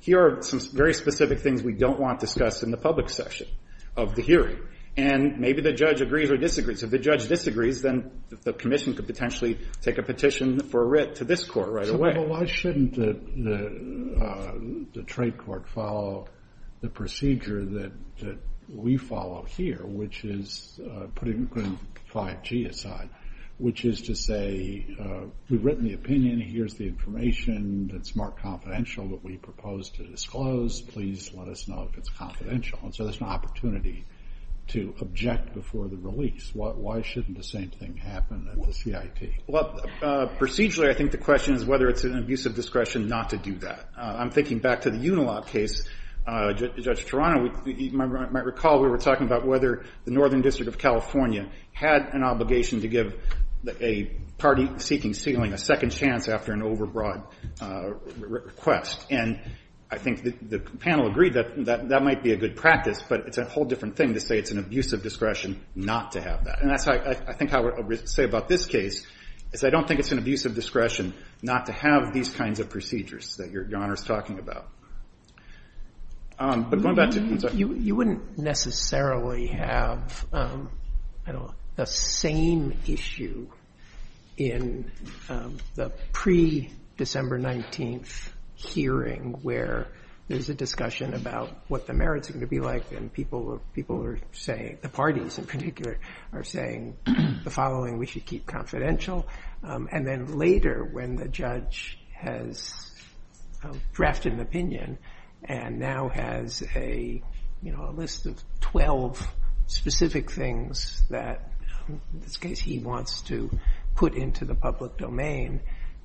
here are some very specific things we don't want discussed in the public section of the hearing and maybe the judge agrees or disagrees. If the judge disagrees then the commission could potentially take a petition for writ to this court right away. So why shouldn't the trade court follow the procedure that we follow here which is putting 5G aside which is to say we've written the opinion, here's the information it's marked confidential that we proposed to disclose, please let us know if it's confidential. So there's an opportunity to object before the release. Why shouldn't the same thing happen with CIP? Procedurally I think the question is whether it's an abuse of discretion not to do that. I'm thinking back to the Unilop case Judge Toronto might recall we were talking about whether the Northern District of California had an obligation to give a party seeking ceiling a second chance after an overbroad request and I think the panel agreed that that might be a good practice but it's a whole different thing to say it's an abuse of discretion not to have that and I think I would say about this case I don't think it's an abuse of discretion not to have these kinds of procedures that your Honor is talking about. You wouldn't necessarily have the same issue in the pre-December 19th hearing where there's a discussion about what the merits are going to be like and the parties in particular are saying the following we should keep confidential and then later when the judge has drafted an opinion and now has a list of 12 specific things that in this case he wants to put into the public domain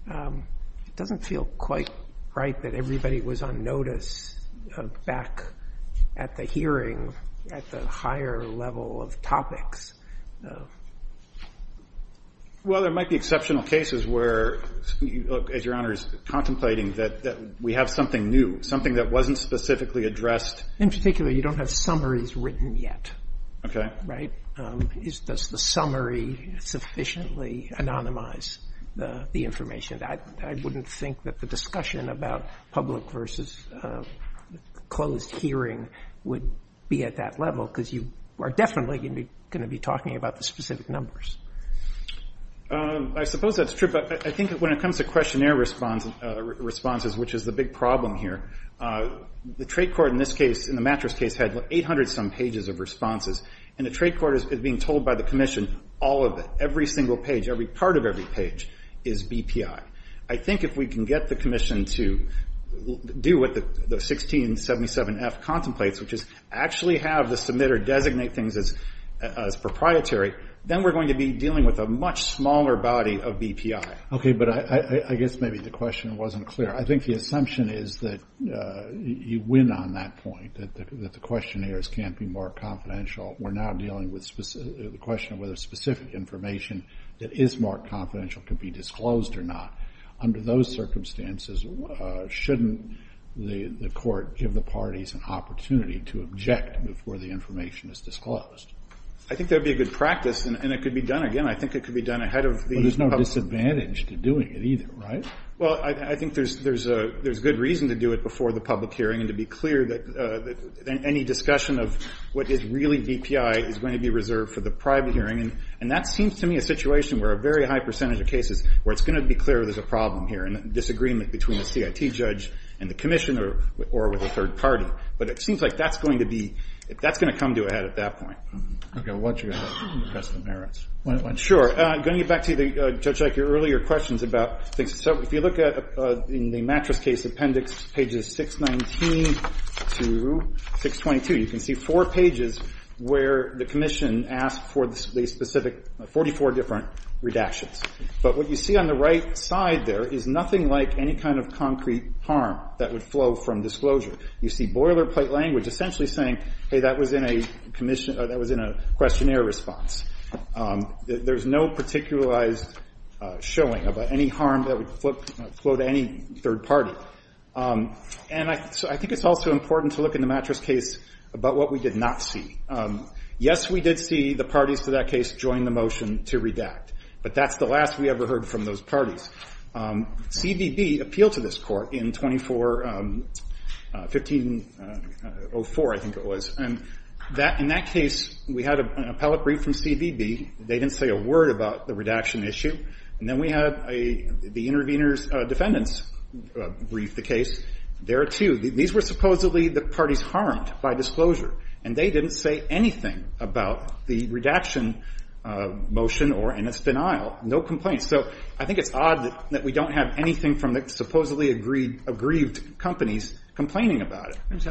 it doesn't feel quite right that everybody was on notice back at the hearing at the higher level of topics. Well there might be exceptional cases where as your Honor is contemplating that we have something new something that wasn't specifically addressed In particular you don't have summaries written yet. Does the summary sufficiently anonymize the information I wouldn't think that the discussion about public versus closed hearing would be at that level because you are definitely going to be talking about the specific numbers. I suppose that's true but I think when it comes to questionnaire responses which is the big problem here the trade court in the mattress case had 800 some pages of responses and the trade court is being told by the commission all of it, every single page, every part of every page is BPI. I think if we can get the commission to do what the 1677F contemplates which is actually have the submitter designate things as proprietary then we're going to be dealing with a much smaller body of BPI. Okay but I guess maybe the question wasn't clear. I think the assumption is that you win on that point that the questionnaires can't be more confidential we're now dealing with the question whether specific information that is more confidential can be disclosed or not under those circumstances shouldn't the court give the parties an opportunity to object before the information is disclosed. I think that would be a good practice and it could be done again I think it could be done ahead of There's no disadvantage to doing it either right? Well I think there's good reason to do it before the public hearing and to be clear that any discussion of what is really BPI is going to be reserved for the private hearing and that seems to me a situation where a very high percentage of cases where it's going to be clear there's a problem here and a disagreement between the CIT judge and the commissioner or with a third party but it seems like that's going to be that's going to come to a head at that point. Okay I want you to address the merits Sure I'm going to get back to the earlier questions about so if you look at in the Mattis case appendix pages 619 to 622 you can see four pages where the commission asked for the specific 44 different redactions but what you see on the right side there is nothing like any kind of concrete harm that would flow from disclosure you see boilerplate language essentially saying hey that was in a questionnaire response there's no particularized showing of any harm that would flow to any third party and I think it's also important to look in the Mattis case about what we did not see yes we did see the parties to that case join the motion to redact but that's the last we ever heard from those parties CBB appealed to this court in 24 1504 I think it was and in that case we had an appellate brief from CBB they didn't say a word about the redaction issue and then we had the intervener's defendants brief the case there too these were supposedly the parties harmed by disclosure and they didn't say anything about the redaction motion or any denial so I think it's odd that we don't have anything from the supposedly aggrieved companies complaining about it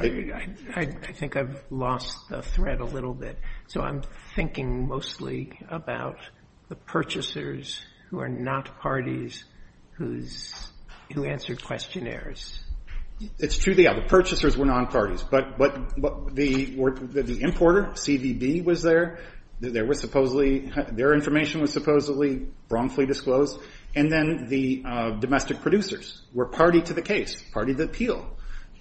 I think I've lost the thread a little bit so I'm thinking mostly about the purchasers who are not parties who answered questionnaires it's true the purchasers were not parties but the importer CBB was there they were supposedly their information was supposedly wrongfully disclosed and then the domestic producers were party to the case party to the appeal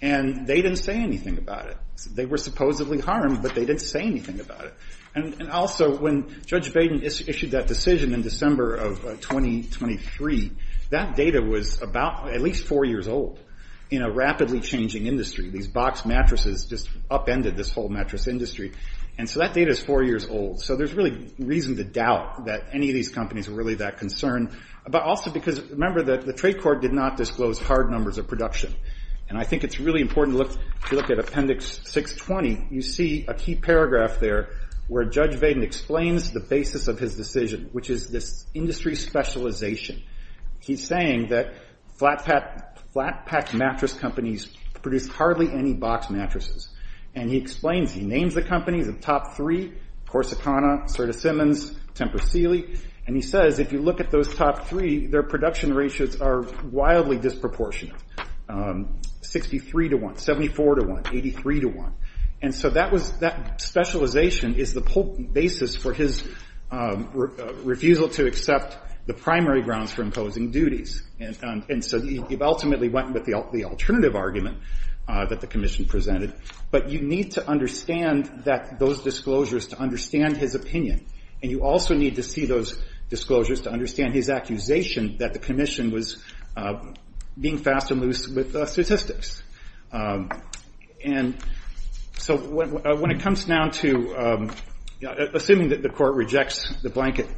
and they didn't say anything about it they were supposedly harmed but they didn't say anything about it and also when Judge Baden issued that decision in December of 2023 that data was about at least 4 years old in a rapidly changing industry these box mattresses upended this whole mattress industry and so that data is 4 years old so there's really reason to doubt that any of these companies are really that concerned but also because remember that the trade court did not disclose hard numbers of production and I think it's really important to look at appendix 620 you see a key paragraph there where Judge Baden explains the basis of his decision which is this industry specialization he's saying that flat pack mattress companies produce hardly any box mattresses and he explains he names the companies, the top 3 Corsicana, Serta-Simmons, Tempest-Seeley and he says if you look at those top 3 their production ratios are wildly disproportionate 63 to 1 74 to 1, 83 to 1 and so that specialization is the basis for his refusal to accept the primary grounds for imposing duties and so he ultimately went with the alternative argument that the commission presented but you need to understand that those disclosures to understand his opinion and you also need to see those disclosures to understand his accusation that the commission was being fast and loose with statistics and so when it comes down to assuming that the court rejects the blanket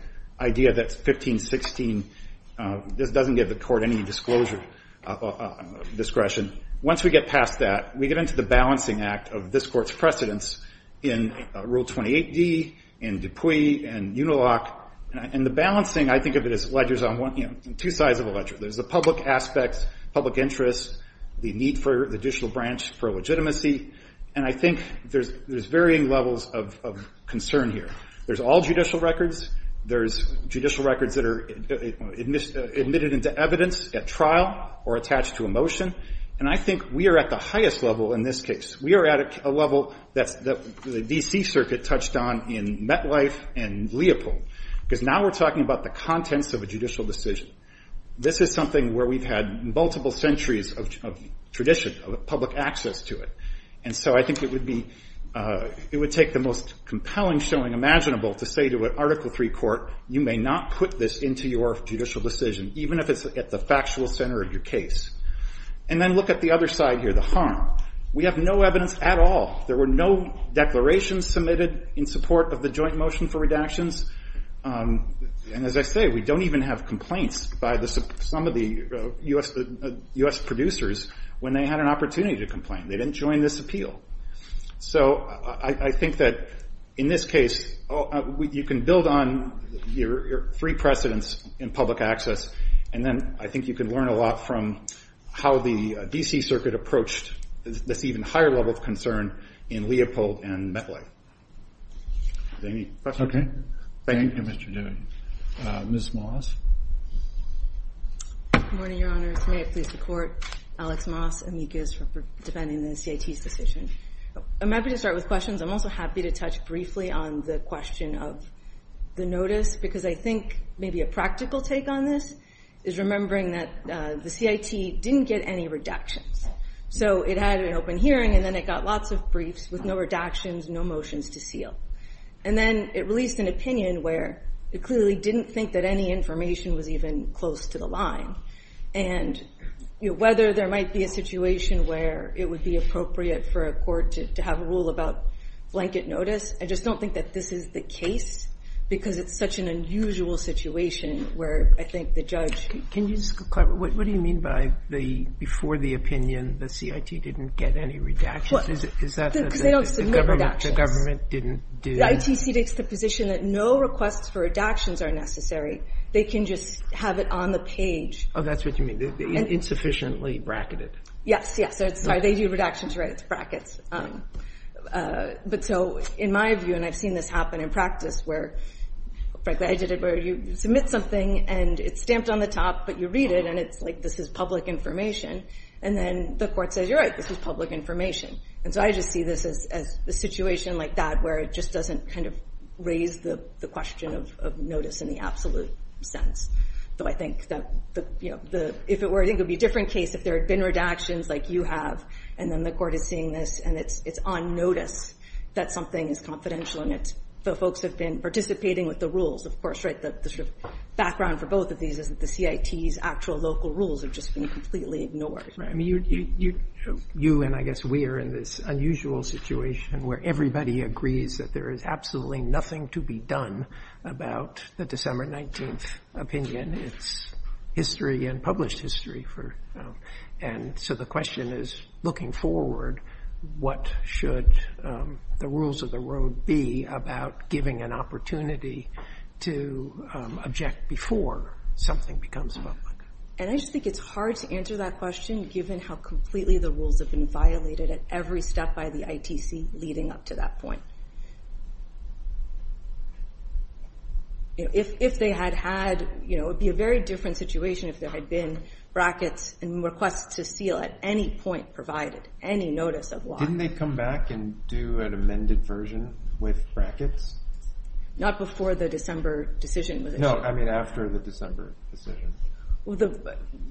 idea that 1516 doesn't give the court any disclosure of discretion once we get past that we get into the balancing act of this court's precedence in Rule 28d in Dupuy and Unilock and the balancing I think of it as ledgers on two sides of the ledger the public aspect, public interest the need for the judicial branch for legitimacy and I think there's varying levels of concern here. There's all judicial records, there's judicial records that are admitted into evidence at trial or attached to a motion and I think we are at the highest level in this case we are at a level that the DC circuit touched on in Metlife and Leopold because now we're talking about the content of a judicial decision. This is something where we've had multiple centuries of tradition of public access to it and so I think it would be it would take the most compelling showing imaginable to say to an Article III court you may not put this into your judicial decision even if it's at the factual center of your case and then look at the other side here, the harm. We have no evidence at all. There were no declarations submitted in support of the joint motion for redactions and as I say we don't even have complaints by some of the US producers when they had an opportunity to complain. They didn't join this appeal. So I think that in this case you can build on your free precedence in public access and then I think you can learn a lot from how the DC circuit approached this even higher level of concern in Leopold and Metlife. Any questions? Thank you Mr. Newton. Ms. Moss? Good morning Your Honor. May I please support Alex Moss amicus for presenting the CIT decision. I'm happy to start with questions. I'm also happy to touch briefly on the question of the notice because I think maybe a practical take on this is remembering that the CIT didn't get any redactions. So it had an open hearing and then it got lots of briefs with no redactions, no motions to seal. And then it released an opinion where it clearly didn't think that any information was even close to the line. Whether there might be a situation where it would be appropriate for a court to have a rule about blanket notice, I just don't think that this is the case because it's such an unusual situation where I think the judge... What do you mean by before the opinion the CIT didn't get any redactions? They don't submit redactions. The ITC takes the position that no requests for redactions are necessary. They can just have it on the page. Oh, that's what you mean. Insufficiently bracketed. Yes, they do redactions right as brackets. But so in my view, and I've seen this happen in practice where you submit something and it's stamped on the top but you read it and it's like this is public information and then the court says, you're right, this is public information. So I just see this as a situation like that where it just doesn't kind of raise the question of notice in the absolute sense. So I think that if it were, I think it would be a different case if there had been redactions like you have and then the court is seeing this and it's on notice that something is confidential and it's the folks that have been participating with the rules. The sort of background for both of these is that the CIT's actual local rules have just been completely ignored. You and I guess we are in this unusual situation where everybody agrees that there is absolutely nothing to be done about the December 19th opinion. It's history and published history. And so the question is looking forward, what should the rules of the road be about giving an opportunity to object before something becomes public. And I just think it's hard to answer that question given how completely the rules have been violated at every step by the ITC leading up to that point. If they had had you know, it would be a very different situation if there had been brackets and requests to seal at any point provided, any notice of law. Didn't they come back and do an amended version with brackets? Not before the December decision. No, I mean after the December decision.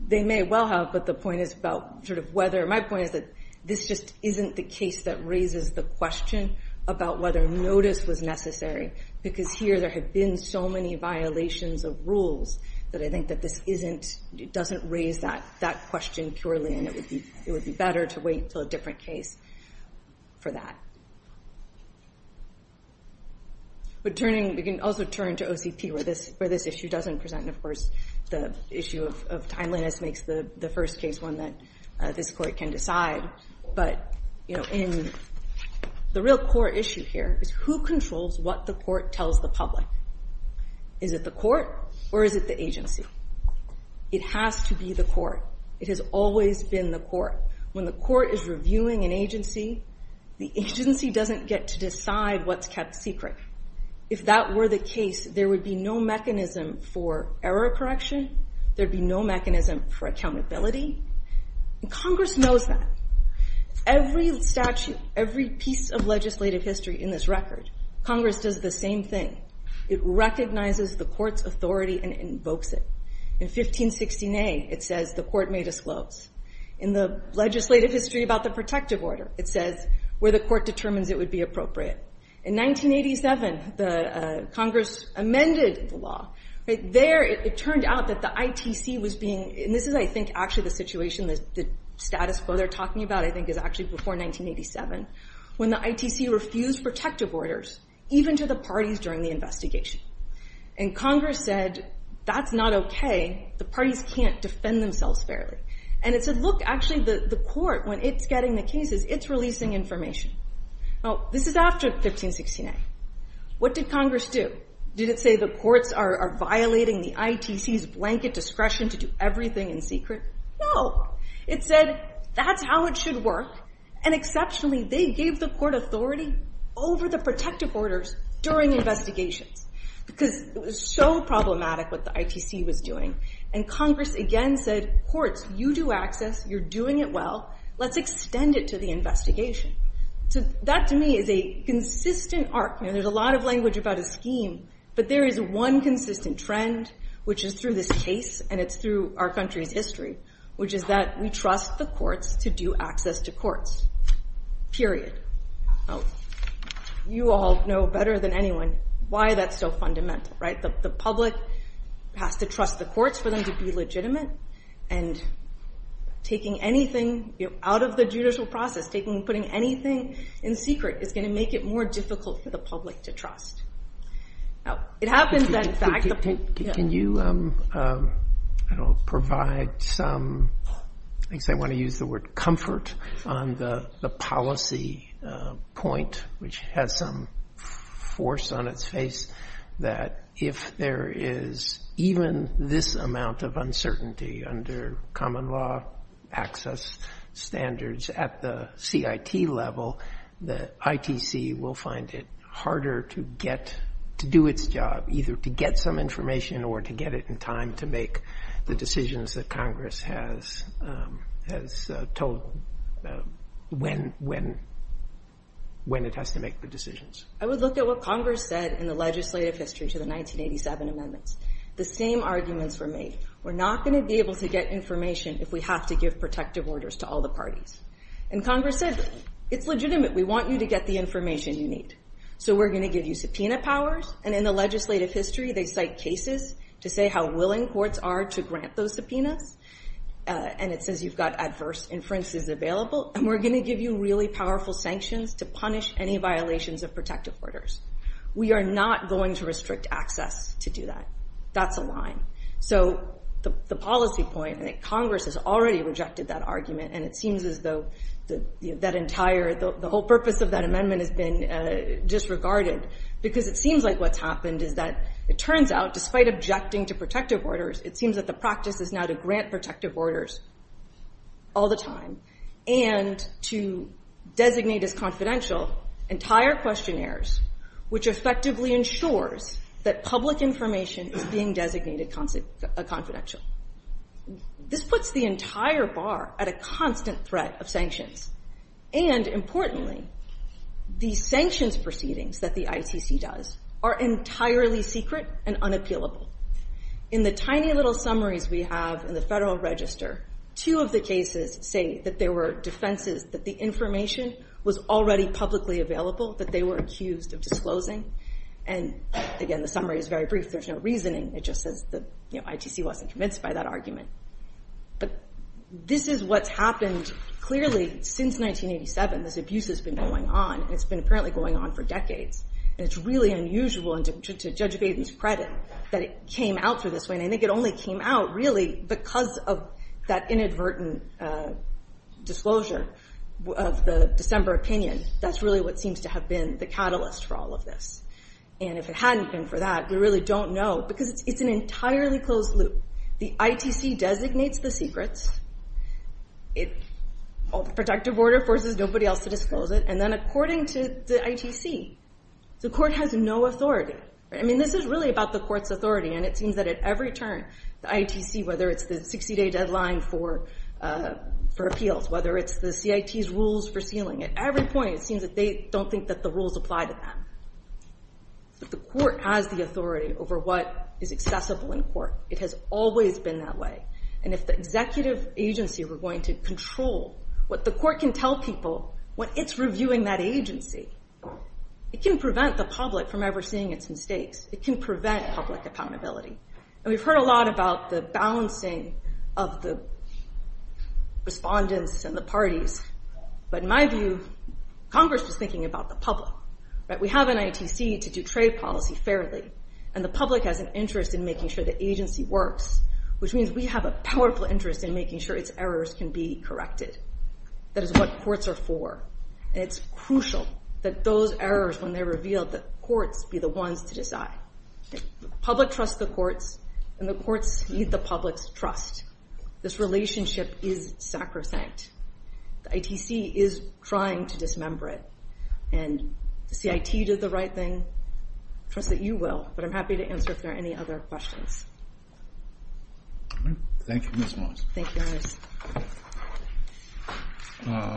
They may well have, but the point is about sort of whether, my point is that this just isn't the case that raises the question about whether notice was necessary. Because here there have been so many violations of rules that I think that this isn't it doesn't raise that question thoroughly and it would be better to wait for a different case for that. We can also turn to OCP where this issue doesn't present, of course the issue of timeliness makes the first case one that this court can decide, but in the real core issue here is who controls what the court tells the public? Is it the court? Or is it the agency? It has to be the court. It has always been the court. When the court is reviewing an agency the agency doesn't get to decide what's kept secret. If that were the case, there would be no mechanism for error correction there'd be no mechanism for accountability. Congress knows that. Every piece of legislative history in this record Congress does the same thing. It recognizes the court's authority and invokes it. In 1516A it says the court may disclose. In the legislative history about the protective order it says where the court determines it would be appropriate. In 1987 Congress amended the law. There it turned out that the ITC was being and this is actually the situation the status quo they're talking about before 1987 when the ITC refused protective orders even to the parties during the investigation. Congress said that's not okay. The parties can't defend themselves fairly. It said look, actually the court when it's getting the cases, it's releasing information. This is after 1516A. What did Congress do? Did it say the courts are violating the ITC's blanket discretion to do everything in secret? No. It said that's how it should work and exceptionally they gave the court authority over the protective orders during the investigation because it was so problematic what the ITC was doing and Congress again said courts, you do access, you're doing it well, let's extend it to the investigation. That to me is a consistent art and there's a lot of language about a scheme but there is one consistent trend which is through this case and it's through our country's history which is that we trust the courts to do access to courts. Period. You all know better than anyone why that's so fundamental but the public has to trust the courts for them to be legitimate and taking anything out of the judicial process putting anything in secret is going to make it more difficult for the public to trust. Can you provide some I want to use the word comfort on the policy point which has some force on its face that if there is even this amount of uncertainty under common law access standards at the IT level ITC will find it harder to do its job either to get some information or to get it in time to make the decisions that Congress has told when it has to make the decisions. I would look at what Congress said in the legislative history to the 1987 amendments. The same arguments were made we're not going to be able to get information if we have to give protective orders to all the parties. And Congress said it's legitimate we want you to get the information you need. So we're going to give you subpoena powers and in the legislative history they cite cases to say how willing courts are to grant those subpoenas and it says you've got adverse inferences available and we're going to give you really powerful sanctions to punish any violations of protective orders. We are not going to restrict access to do that. That's the line. So the policy point Congress has already rejected that argument and it seems as though the whole purpose of that amendment has been disregarded because it seems like what's happened is that it turns out despite objecting to protective orders it seems that the practice is now to grant protective orders all the time and to designate as confidential entire questionnaires which effectively ensures that public information is being designated as confidential. This puts the entire bar at a constant threat of sanctions and importantly the sanctions proceedings that the ITC does are entirely secret and unappealable. In the tiny little summaries we have in the Federal Register two of the cases say that there were dissenters that the information was already publicly available that they were accused of disclosing and again the summary is very brief. There's no reason ITC wasn't convinced by that argument. This is what's happened clearly since 1987. This abuse has been going on. It's been apparently going on for decades and it's really unusual to judge Gacy's credit that it came out to this point. I think it only came out really because of that inadvertent disclosure of the December opinion. That's really what seems to have been the catalyst for all of this and if it hadn't been for that we really don't know because it's an entirely closed loop. The ITC designates the secrets it's a protective order forces nobody else to disclose it and then according to the ITC the court has no authority I mean this is really about the court's authority and it seems that at every turn the ITC whether it's the 60 day deadline for appeals whether it's the CIT's rules for sealing at every point it seems that they don't think that the rules apply to them but the court has the authority over what is accessible in court it has always been that way and if the executive agency were going to control what the court can tell people when it's reviewing that agency it can prevent the public from ever seeing it in states it can prevent public accountability and we've heard a lot about the balancing of the respondents and the parties but in my view Congress is thinking about the public we have an ITC to do trade policy fairly and the public has an interest in making sure the agency works which means we have a powerful interest in making sure it's errors can be corrected. That is what courts are for and it's crucial that those errors when they're revealed the courts be the ones to decide the public trusts the courts and the courts need the public's trust. This relationship is sacrosanct the ITC is trying to dismember it and if the CIT does the right thing I trust that you will but I'm happy to answer if there are any other questions Thank you Ms. Moss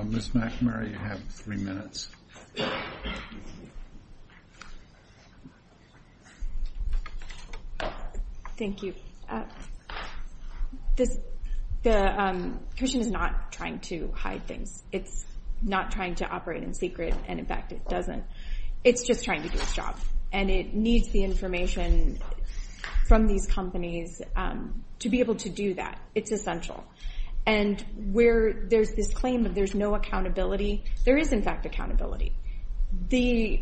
Ms. McNamara you have three minutes Thank you The commission is not trying to hide things it's not trying to operate in secret and in fact it doesn't it's just trying to do its job and it needs the information from these companies to be able to do that it's essential and where there's this claim that there's no accountability there is in fact accountability the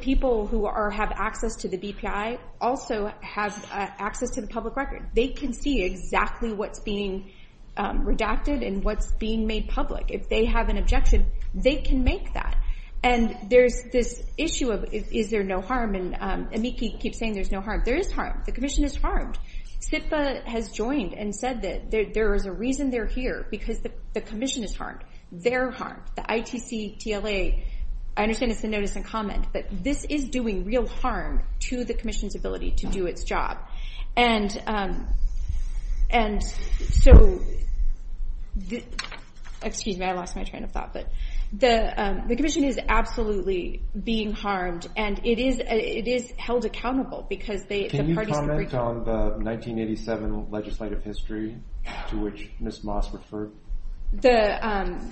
people who have access to the BPI also have access to the public records they can see exactly what's being redacted and what's being made public if they have an objection they can make that and there's this issue of is there no harm and Amiki keeps saying there's no harm there is harm, the commission is harmed CIPA has joined and said that there is a reason they're here because the commission is harmed the ITC, TLA I understand it's a notice and comment but this is doing real harm to the commission's ability to do its job and so excuse me I lost my train of thought the commission is absolutely being harmed and it is held accountable Can you comment on the 1987 legislative history to which Ms. Moss referred the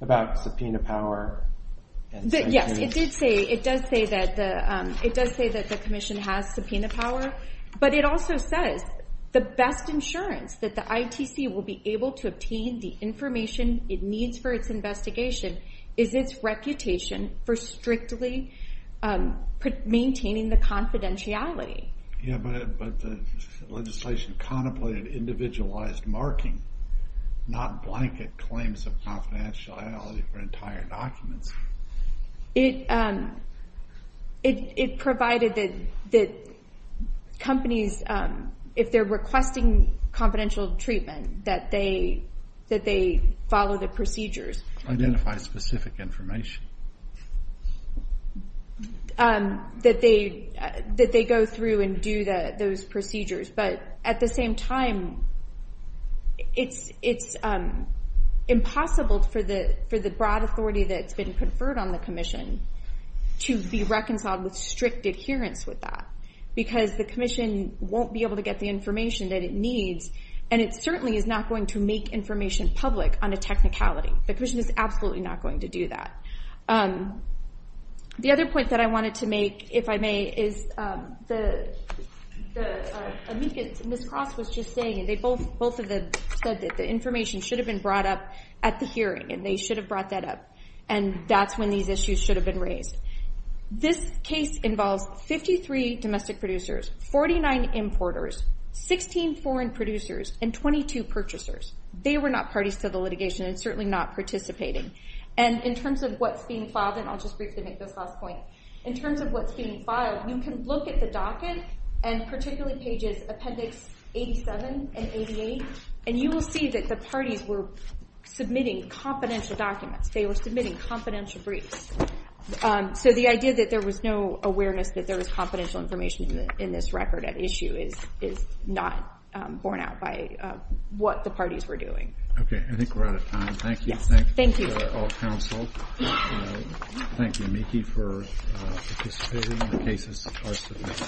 about subpoena power Yes it does say that the commission has subpoena power but it also says the best insurance that the ITC will be able to obtain the information it needs for its investigation is its reputation for strictly maintaining the confidentiality Yeah but the legislation contemplated individualized marking not blanket claims of confidentiality for entire documents it it provided that companies if they're requesting confidential treatment that they follow the procedures identify specific information that they go through and do those procedures but at the same time it's impossible for the broad authority that's been conferred on the commission to be reconciled with strict adherence with that because the commission won't be able to get the information that it needs and it certainly is not going to make information public on a technicality the commission is absolutely not going to do that the other point that I wanted to make if I may is the Ms. Moss was just saying both of them said that the information should have been brought up at the hearing and they should have brought that up and that's when these issues should have been raised this case involves 53 domestic producers 49 importers 16 foreign producers and 22 purchasers they were not parties to the litigation and certainly not participating and in terms of what's being filed and I'll just briefly make this last point in terms of what's being filed you can look at the docket and particularly pages appendix 87 and 88 and you will see that the parties were submitting confidential documents they were submitting confidential briefs so the idea that there was no awareness that there was confidential information in this record at issue is not borne out by what the parties were doing okay I think we're out of time thank you thank you all counsel thank you Nikki for participating in the case